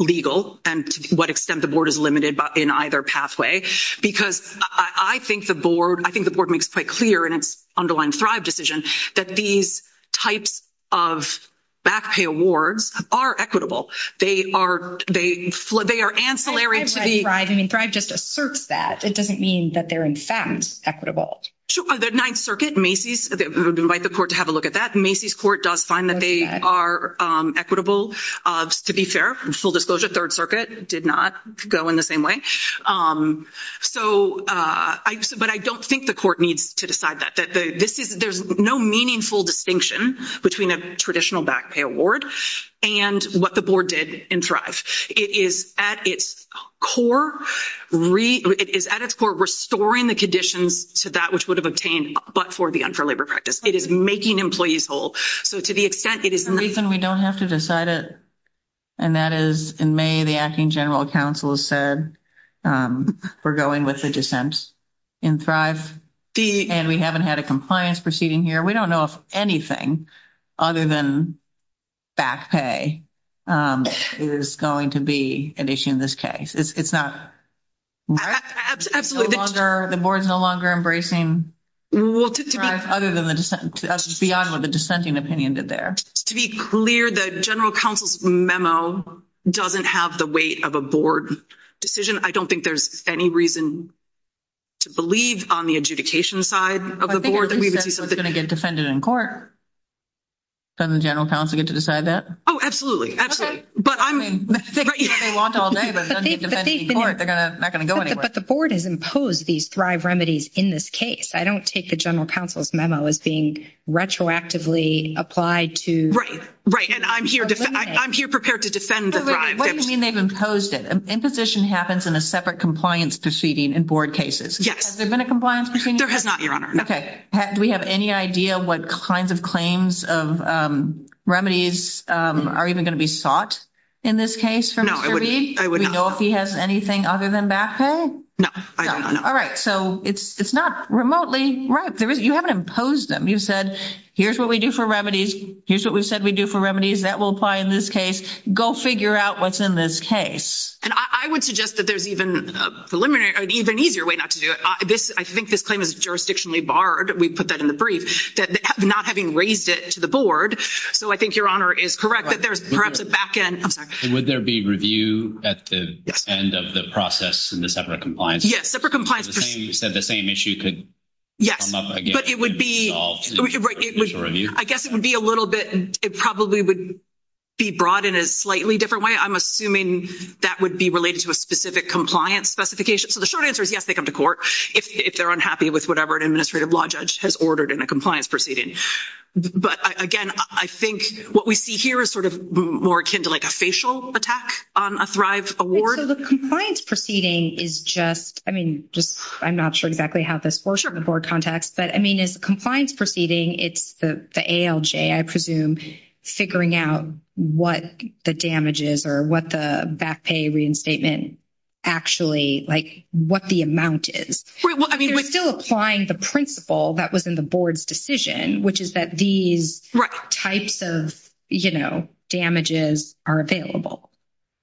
legal and to what extent the board is limited in either pathway, because I think the board, I think the board makes quite clear and it's underlying thrive decision that these types of. Back pay awards are equitable. They are, they, they are ancillary to the thriving and thrive just asserts that it doesn't mean that they're in fact equitable to the 9th circuit. Macy's invite the court to have a look at that. Macy's court does find that they are equitable to be fair and full disclosure. 3rd, circuit did not go in the same way. So, but I don't think the court needs to decide that that this is there's no meaningful distinction between a traditional back pay award and what the board did in thrive. It is at its core is at its core, restoring the conditions to that, which would have obtained, but for the unfair labor practice, it is making employees whole. So, to the extent it is the reason we don't have to decide it. And that is in May, the acting general counsel said, we're going with the dissent in thrive and we haven't had a compliance proceeding here. We don't know if anything other than back pay is going to be an issue in this case. It's not. Absolutely, the board's no longer embracing. Well, other than the beyond what the dissenting opinion did there to be clear that general counsel's memo doesn't have the weight of a board decision. I don't think there's any reason. To believe on the adjudication side of the board that we would be going to get defended in court. General counsel get to decide that. Oh, absolutely. Absolutely. But I mean, they want all day, but they're going to not going to go anywhere. But the board has imposed these thrive remedies in this case. I don't take the general counsel's memo as being retroactively applied to. Right? Right. And I'm here, I'm here prepared to defend. What do you mean? They've imposed it in position happens in a separate compliance proceeding and board cases. Yes, there's been a compliance. There has not your honor. Okay. Do we have any idea? What kinds of claims of remedies are even going to be sought in this case? I would suggest that there's even a preliminary, even easier way not to do it. This I think this claim is jurisdictionally barred. We put that in the brief that not having raised it to the board. So, I think your honor is correct. That there's perhaps a back end. I'm sorry. Would there be remedies that would apply in this case? Review at the end of the process and the separate compliance. Yes, separate compliance. You said the same issue could. Yes, but it would be right. I guess it would be a little bit. It probably would be brought in a slightly different way. I'm assuming that would be related to a specific compliance specification. So, the short answer is, yes, they come to court if they're unhappy with whatever an administrative law judge has ordered in a compliance proceeding. But again, I think what we see here is sort of more akin to like a facial attack on a thrive award. So, the compliance proceeding is just, I mean, just I'm not sure exactly how this works for the board contacts. But, I mean, is compliance proceeding. It's the, I presume figuring out what the damages or what the back pay reinstatement. Actually, like, what the amount is still applying the principle that was in the board's decision, which is that these types of damages are available.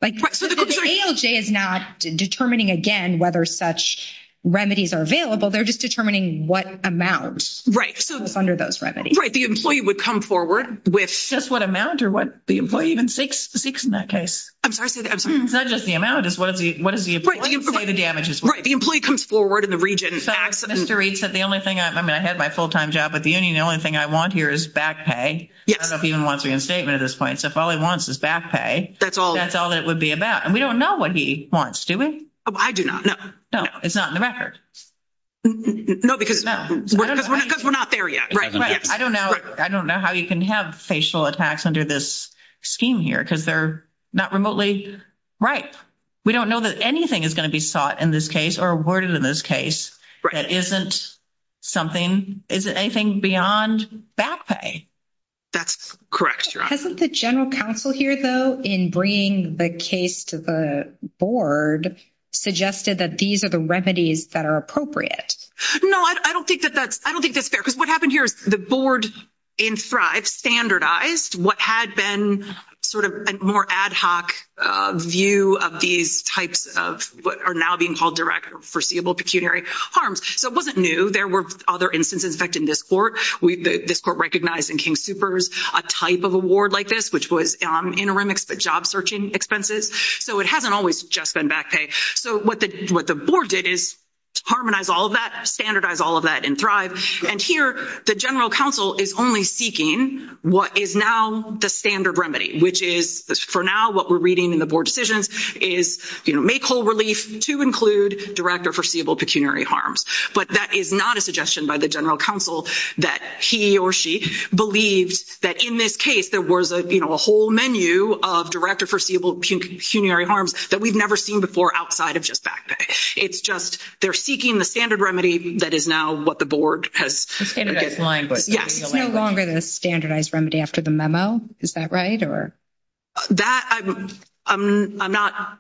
Like, is not determining again, whether such remedies are available, they're just determining what amount right? So, under those remedy, right? The employee would come forward with just what amount or what the employee even 6, 6 in that case. I'm sorry, I'm sorry. It's not just the amount is what is the, what is the damages? Right? The employee comes forward in the region. Mr. Reid said the only thing I mean, I had my full time job at the union. The only thing I want here is back pay. Yes, I don't even want to reinstatement at this point. So, if all he wants is back pay, that's all that's all it would be about. And we don't know what he wants. Do we? I do not know. No, it's not in the record. No, because we're not there yet. Right? I don't know. I don't know how you can have facial attacks under this scheme here because they're not remotely. Right. We don't know that anything is going to be sought in this case or awarded in this case. That isn't. Something is anything beyond back pay. That's correct. The general counsel here, though, in bringing the case to the board suggested that these are the remedies that are appropriate. No, I don't think that that's I don't think that's fair. Because what happened here is the board in thrive standardized what had been sort of a more ad hoc view of these types of what are now being called direct foreseeable pecuniary harms. So, it wasn't new. There were other instances. In fact, in this court, this court recognized in King Super's a type of award like this, which was interim job searching expenses. So, it hasn't always just been back pay. So, what the board did is harmonize all of that, standardize all of that and thrive. And here, the general counsel is only seeking what is now the standard remedy, which is for now what we're reading in the board decisions is make whole relief to include direct or foreseeable pecuniary harms. But that is not a suggestion by the general counsel that he or she believed that in this case, there was a whole menu of director foreseeable pecuniary harms that we've never seen before. Outside of just back pay, it's just they're seeking the standard remedy. That is now what the board has no longer the standardized remedy after the memo. Is that right? Or. That I'm not,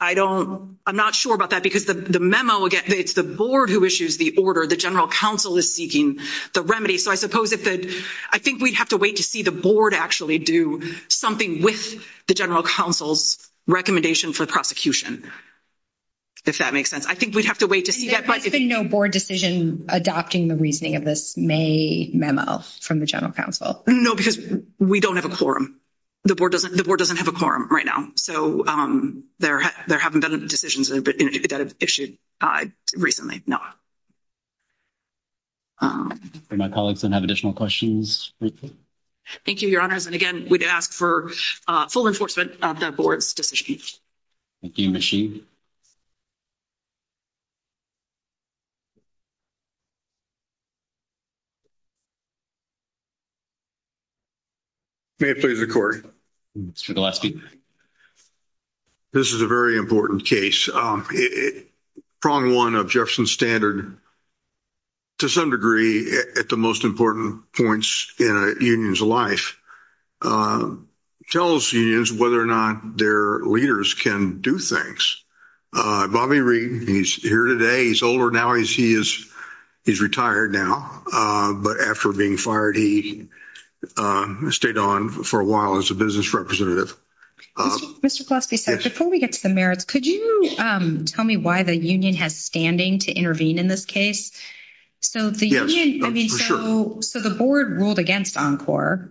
I don't, I'm not sure about that because the memo again, it's the board who issues the order. The general counsel is seeking the remedy. So, I suppose if that I think we'd have to wait to see the board actually do something with the general counsel's recommendation for the prosecution. If that makes sense, I think we'd have to wait to see that, but there's been no board decision adopting the reasoning of this may memo from the general counsel. No, because we don't have a quorum. The board doesn't the board doesn't have a quorum right now. So, um, there, there haven't been decisions that have issued recently. No. My colleagues and have additional questions. Thank you, your honors and again, we'd ask for full enforcement of that board's decision. Thank you, Ms. Sheen. May it please the court. Mr. Gillespie. This is a very important case. Prong 1 of Jefferson standard to some degree at the most important points in a union's life. Tell us unions, whether or not their leaders can do things. Bobby Reed, he's here today. He's older now. He's he is. He's retired now, but after being fired, he stayed on for a while as a business representative. Mr. Gillespie said, before we get to the merits, could you tell me why the union has standing to intervene in this case? So, the, I mean, so, so the board ruled against encore.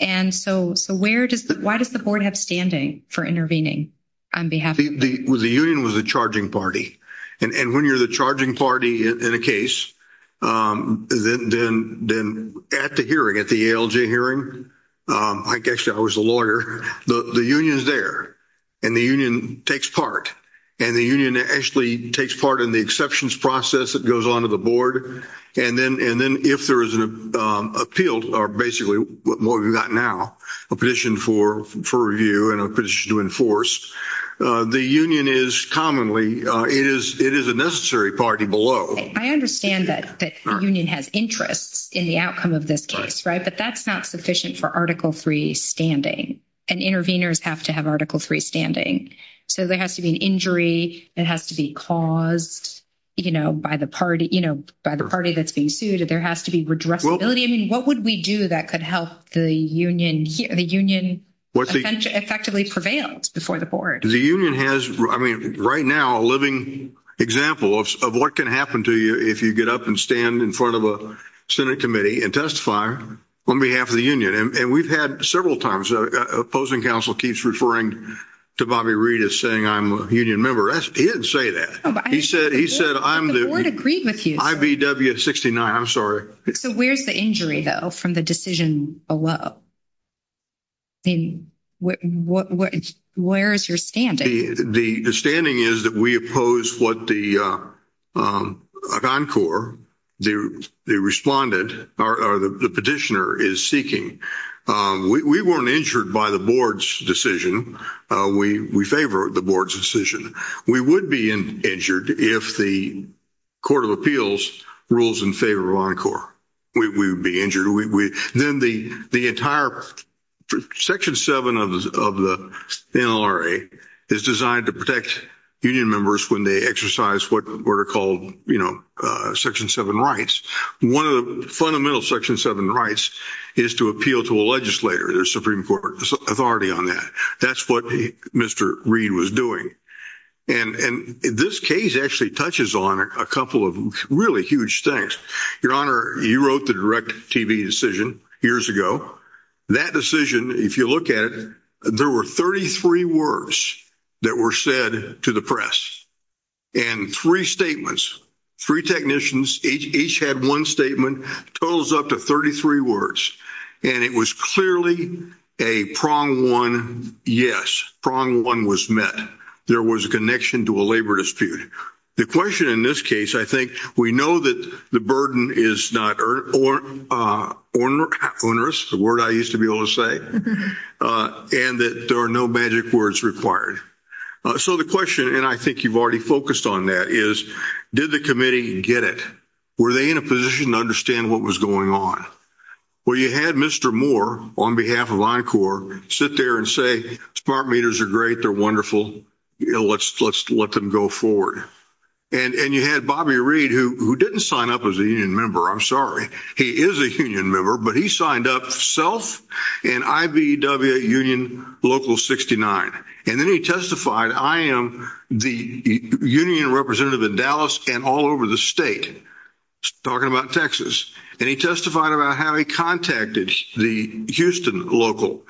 And so, so, where does the, why does the board have standing for intervening? On behalf of the union was the charging party and when you're the charging party in a case. Um, then then then at the hearing at the hearing. I guess I was a lawyer. The union is there. And the union takes part and the union actually takes part in the exceptions process that goes on to the board. And then and then if there is an appeal or basically what we've got now a position for for review and a position to enforce the union is commonly it is it is a necessary party below. I understand that that union has interests in the outcome of this case, right? But that's not sufficient for article 3 standing and intervenors have to have article 3 standing. So, there has to be an injury that has to be caused by the party by the party that's being sued. There has to be redress ability. I mean, what would we do that could help the union the union effectively prevails before the board? The union has, I mean, right now, a living example of what can happen to you if you get up and stand in front of a Senate committee and testify on behalf of the union. And we've had several times opposing council keeps referring to Bobby Reed is saying I'm a union member. He didn't say that. He said, he said, I'm the board agreed with you. I. B. W. 69. I'm sorry. So, where's the injury though from the decision below? In what, where is your standing? The standing is that we oppose what the. Encore, they responded or the petitioner is seeking. We weren't injured by the board's decision. We, we favor the board's decision. We would be injured if the. Court of appeals rules in favor of encore. We would be injured. We then the, the entire. Section 7 of the NRA is designed to protect union members when they exercise what were called section 7 rights. 1 of the fundamental section 7 rights is to appeal to a legislator. There's Supreme Court authority on that. That's what Mr. Reed was doing. And this case actually touches on a couple of really huge things. Your honor, you wrote the direct TV decision years ago. That decision, if you look at it, there were 33 words. That were said to the press and 3 statements. 3 technicians each had 1 statement totals up to 33 words and it was clearly a prong 1. Yes, prong 1 was met. There was a connection to a labor dispute. The question in this case, I think we know that the burden is not or onerous. The word I used to be able to say and that there are no magic words required. So, the question, and I think you've already focused on that is, did the committee get it? Were they in a position to understand what was going on? Well, you had Mr. Moore on behalf of Encore sit there and say, smart meters are great. They're wonderful. Let's let's let them go forward. And you had Bobby Reed who didn't sign up as a union member. I'm sorry. He is a union member, but he signed up self and IBEW union local 69. and then he testified I am the union representative in Dallas and all over the state. Talking about Texas, and he testified about how he contacted the Houston local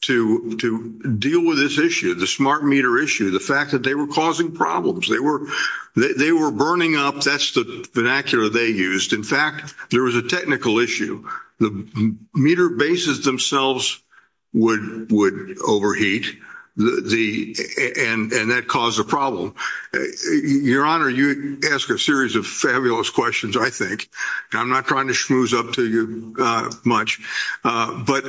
to to deal with this issue. The smart meter issue, the fact that they were causing problems. They were, they were burning up. That's the vernacular they used. In fact, there was a technical issue. The meter bases themselves would overheat and that caused a problem. Your honor, you ask a series of fabulous questions. I think I'm not trying to schmooze up to you much, but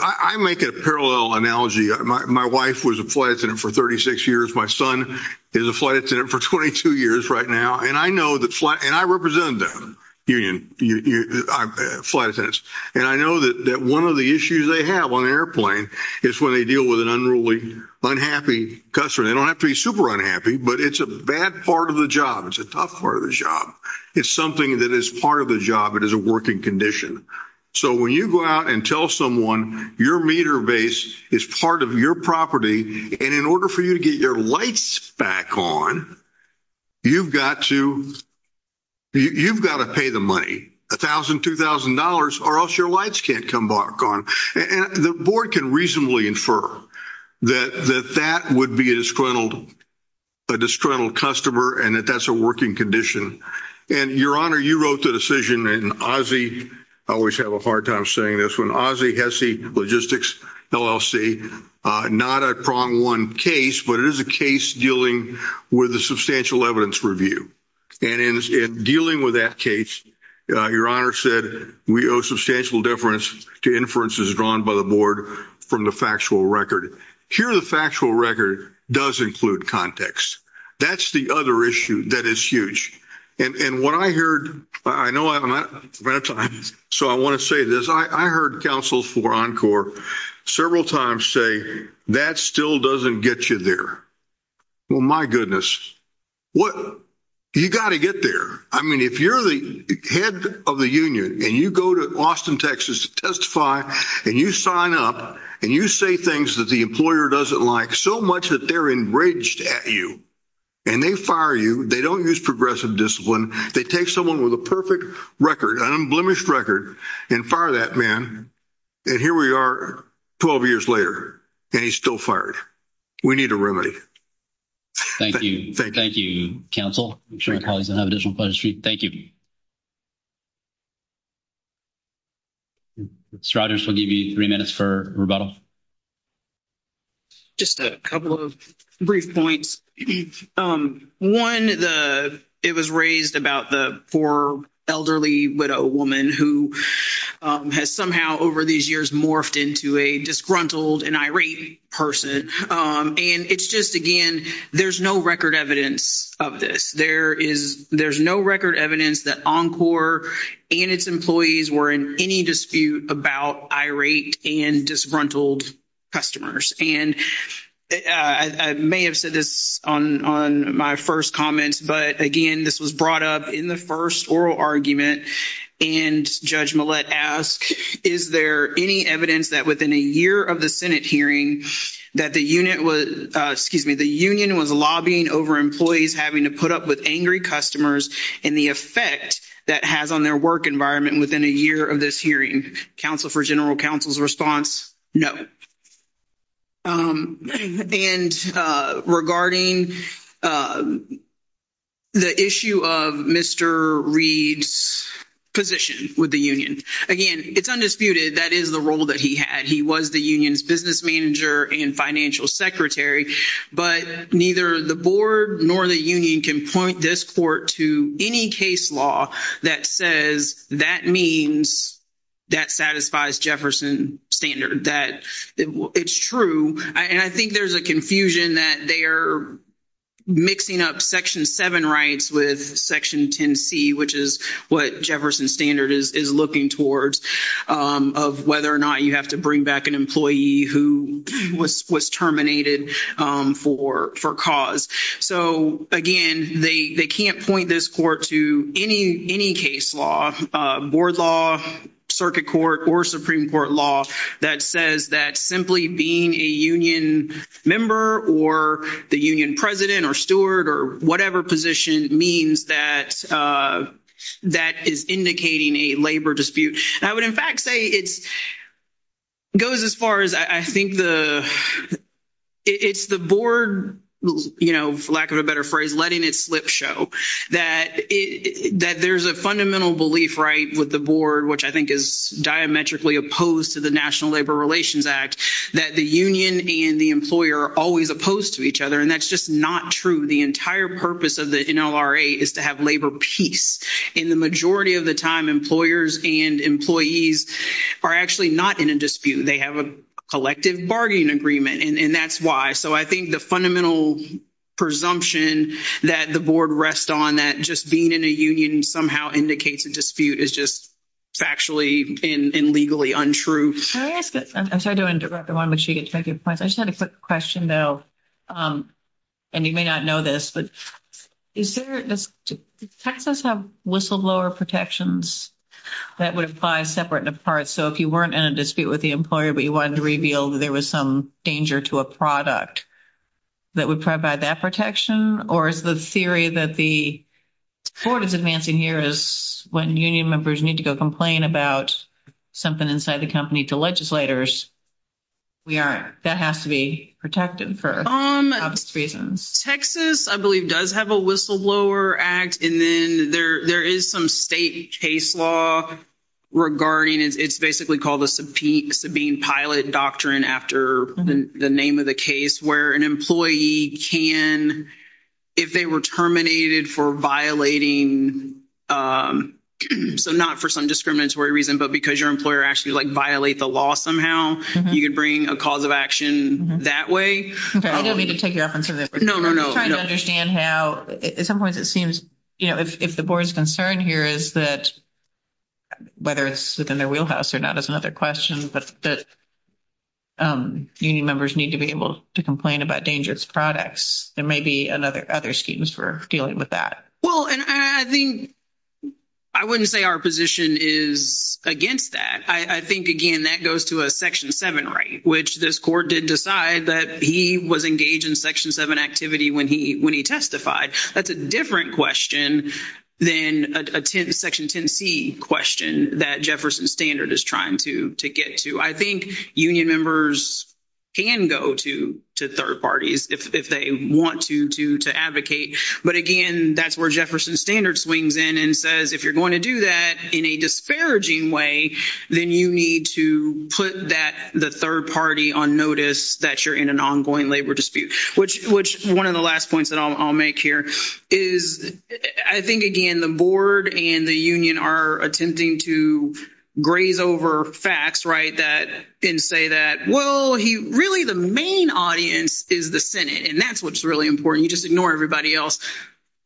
I make a parallel analogy. My wife was a flight attendant for 36 years. My son is a flight attendant for 22 years right now. And I know that flight and I represent them union flight attendants. And I know that that 1 of the issues they have on the airplane is when they deal with an unruly, unhappy customer, they don't have to be super unhappy, but it's a bad part of the job. It's a tough part of the job. It's something that is part of the job. It is a working condition. So, when you go out and tell someone your meter base is part of your property, and in order for you to get your lights back on. You've got to you've got to pay the money 1000, 2000 dollars, or else your lights can't come back on and the board can reasonably infer that that that would be a disgruntled. A disgruntled customer, and that that's a working condition and your honor, you wrote the decision and Ozzie. I always have a hard time saying this when Ozzie has the logistics LLC, not a prong 1 case, but it is a case dealing with the substantial evidence review and in dealing with that case, your honor said we owe substantial difference to inferences drawn by the board from the factual record here. The factual record does include context. That's the other issue. That is huge. And what I heard, I know, so I want to say this. I heard counsels for encore several times say that still doesn't get you there. Well, my goodness, what you got to get there. I mean, if you're the head of the union, and you go to Austin, Texas, testify, and you sign up and you say things that the employer doesn't like so much that they're enraged at you and they fire you, they don't use progressive discipline. They take someone with a perfect record, an unblemished record and fire that man. And here we are, 12 years later, and he's still fired. We need a remedy. Thank you. Thank you. Thank you. Council. I'm sure my colleagues have additional questions for you. Thank you. Striders will give you 3 minutes for rebuttal. Just a couple of brief points. 1, the, it was raised about the 4 elderly widow woman who has somehow over these years morphed into a disgruntled and irate person. And it's just, again, there's no record evidence of this. There is there's no record evidence that encore and its employees were in any dispute about irate and disgruntled. Customers, and I may have said this on on my 1st comments, but again, this was brought up in the 1st oral argument and judge ask, is there any evidence that within a year of the Senate hearing? That the unit was excuse me, the union was lobbying over employees, having to put up with angry customers and the effect that has on their work environment within a year of this hearing council for general counsel's response. No. Um, and, uh, regarding. Um, the issue of Mr. Reed's position with the union again, it's undisputed. That is the role that he had. He was the union's business manager and financial secretary, but neither the board nor the union can point this court to any case law that says that means. That satisfies Jefferson standard that it's true and I think there's a confusion that they're mixing up section 7 rights with section 10, C, which is what Jefferson standard is looking towards of whether or not you have to bring back an employee who was was terminated for for cause. So, again, they can't point this court to any, any case law board law, circuit court, or Supreme Court law that says that simply being a union member, or the union president or steward, or whatever position means that that is indicating a labor dispute. I would, in fact, say it's goes as far as I think the. It's the board, you know, for lack of a better phrase, letting it slip show that that there's a fundamental belief right with the board, which I think is diametrically opposed to the National Labor Relations Act that the union and the employer always opposed to each other. And that's just not true. The entire purpose of the is to have labor peace in the majority of the time. Employers and employees are actually not in a dispute. They have a collective bargaining agreement and that's why. So, I think the fundamental presumption that the board rest on that just being in a union somehow indicates a dispute is just factually and legally untrue. I'm sorry to interrupt the 1, but she gets to make your points. I just had a quick question though, and you may not know this, but is there does Texas have whistleblower protections that would apply separate and apart? So, if you weren't in a dispute with the employer, but you wanted to reveal that there was some danger to a product. That would provide that protection, or is the theory that the. Court is advancing here is when union members need to go complain about something inside the company to legislators. We are that has to be protected for reasons, Texas, I believe does have a whistleblower act and then there there is some state case law. Regarding it's basically called a subpoena being pilot doctrine after the name of the case where an employee can. If they were terminated for violating. So, not for some discriminatory reason, but because your employer actually violate the law somehow, you can bring a cause of action that way. I don't need to take you up on that. No, no, no. I understand how at some point it seems. You know, if the board's concern here is that. Whether it's within their wheelhouse or not is another question, but. Union members need to be able to complain about dangerous products. There may be another other schemes for dealing with that. Well, and I think. I wouldn't say our position is against that. I think again, that goes to a section 7, right? Which this court did decide that he was engaged in section 7 activity when he when he testified. That's a different question. Then a 10 section 10 C question that Jefferson standard is trying to to get to, I think union members. Can go to to 3rd parties if they want to to to advocate, but again, that's where Jefferson standard swings in and says, if you're going to do that in a disparaging way, then you need to put that the 3rd party on notice that you're in an ongoing labor dispute, which, which 1 of the last points that I'll make here is, I think again, the board and the union are attempting to. Graze over facts, right? That didn't say that. Well, he really the main audience is the Senate and that's what's really important. You just ignore everybody else.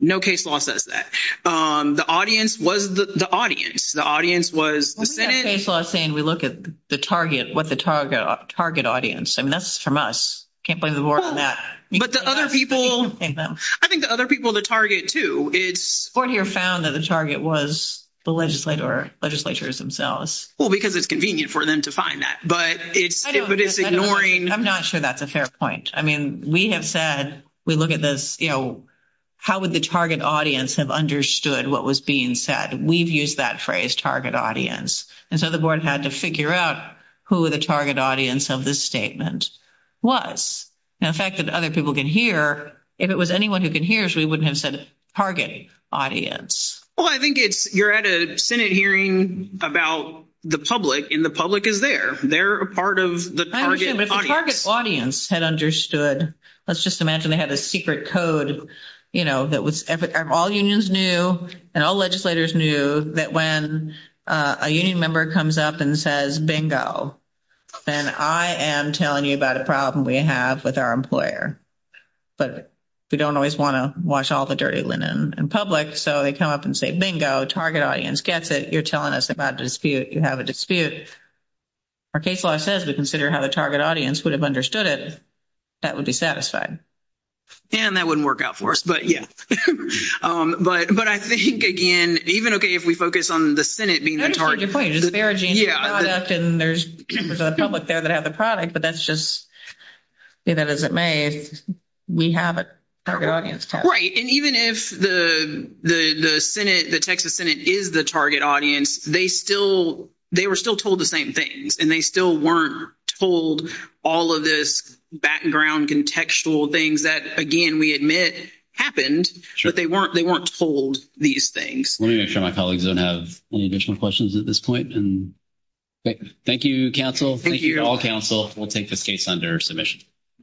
No case law says that the audience was the audience. The audience was saying we look at the target with the target target audience. I mean, that's from us. Can't blame the board on that. But the other people, I think the other people, the target to its board here found that the target was the legislator legislatures themselves. Well, because it's convenient for them to find that, but it's, but it's ignoring. I'm not sure. That's a fair point. I mean, we have said, we look at this, you know. How would the target audience have understood what was being said? We've used that phrase target audience. And so the board had to figure out who the target audience of this statement was affected. Other people can hear if it was anyone who can hear us. We wouldn't have said target audience. Well, I think it's you're at a Senate hearing about the public and the public is there. They're a part of the target audience had understood. Let's just imagine they had a secret code, you know, that was all unions new and all legislators knew that when a union member comes up and says, bingo, then I am telling you about a problem we have with our employer. But we don't always want to wash all the dirty linen and public. So they come up and say, bingo target audience gets it. You're telling us about dispute. You have a dispute. Our case law says we consider how the target audience would have understood it. That would be satisfied and that wouldn't work out for us. But yeah, but I think again, even okay, if we focus on the Senate being the target point, and there's a public there that have the product, but that's just. That is, it may we have a target audience, right? And even if the Senate, the Texas Senate is the target audience, they still they were still told the same things and they still weren't told all of this background contextual things that again, we admit happened, but they weren't they weren't told these things. Let me make sure my colleagues don't have any additional questions at this point. And thank you counsel. Thank you all counsel. We'll take this case under submission.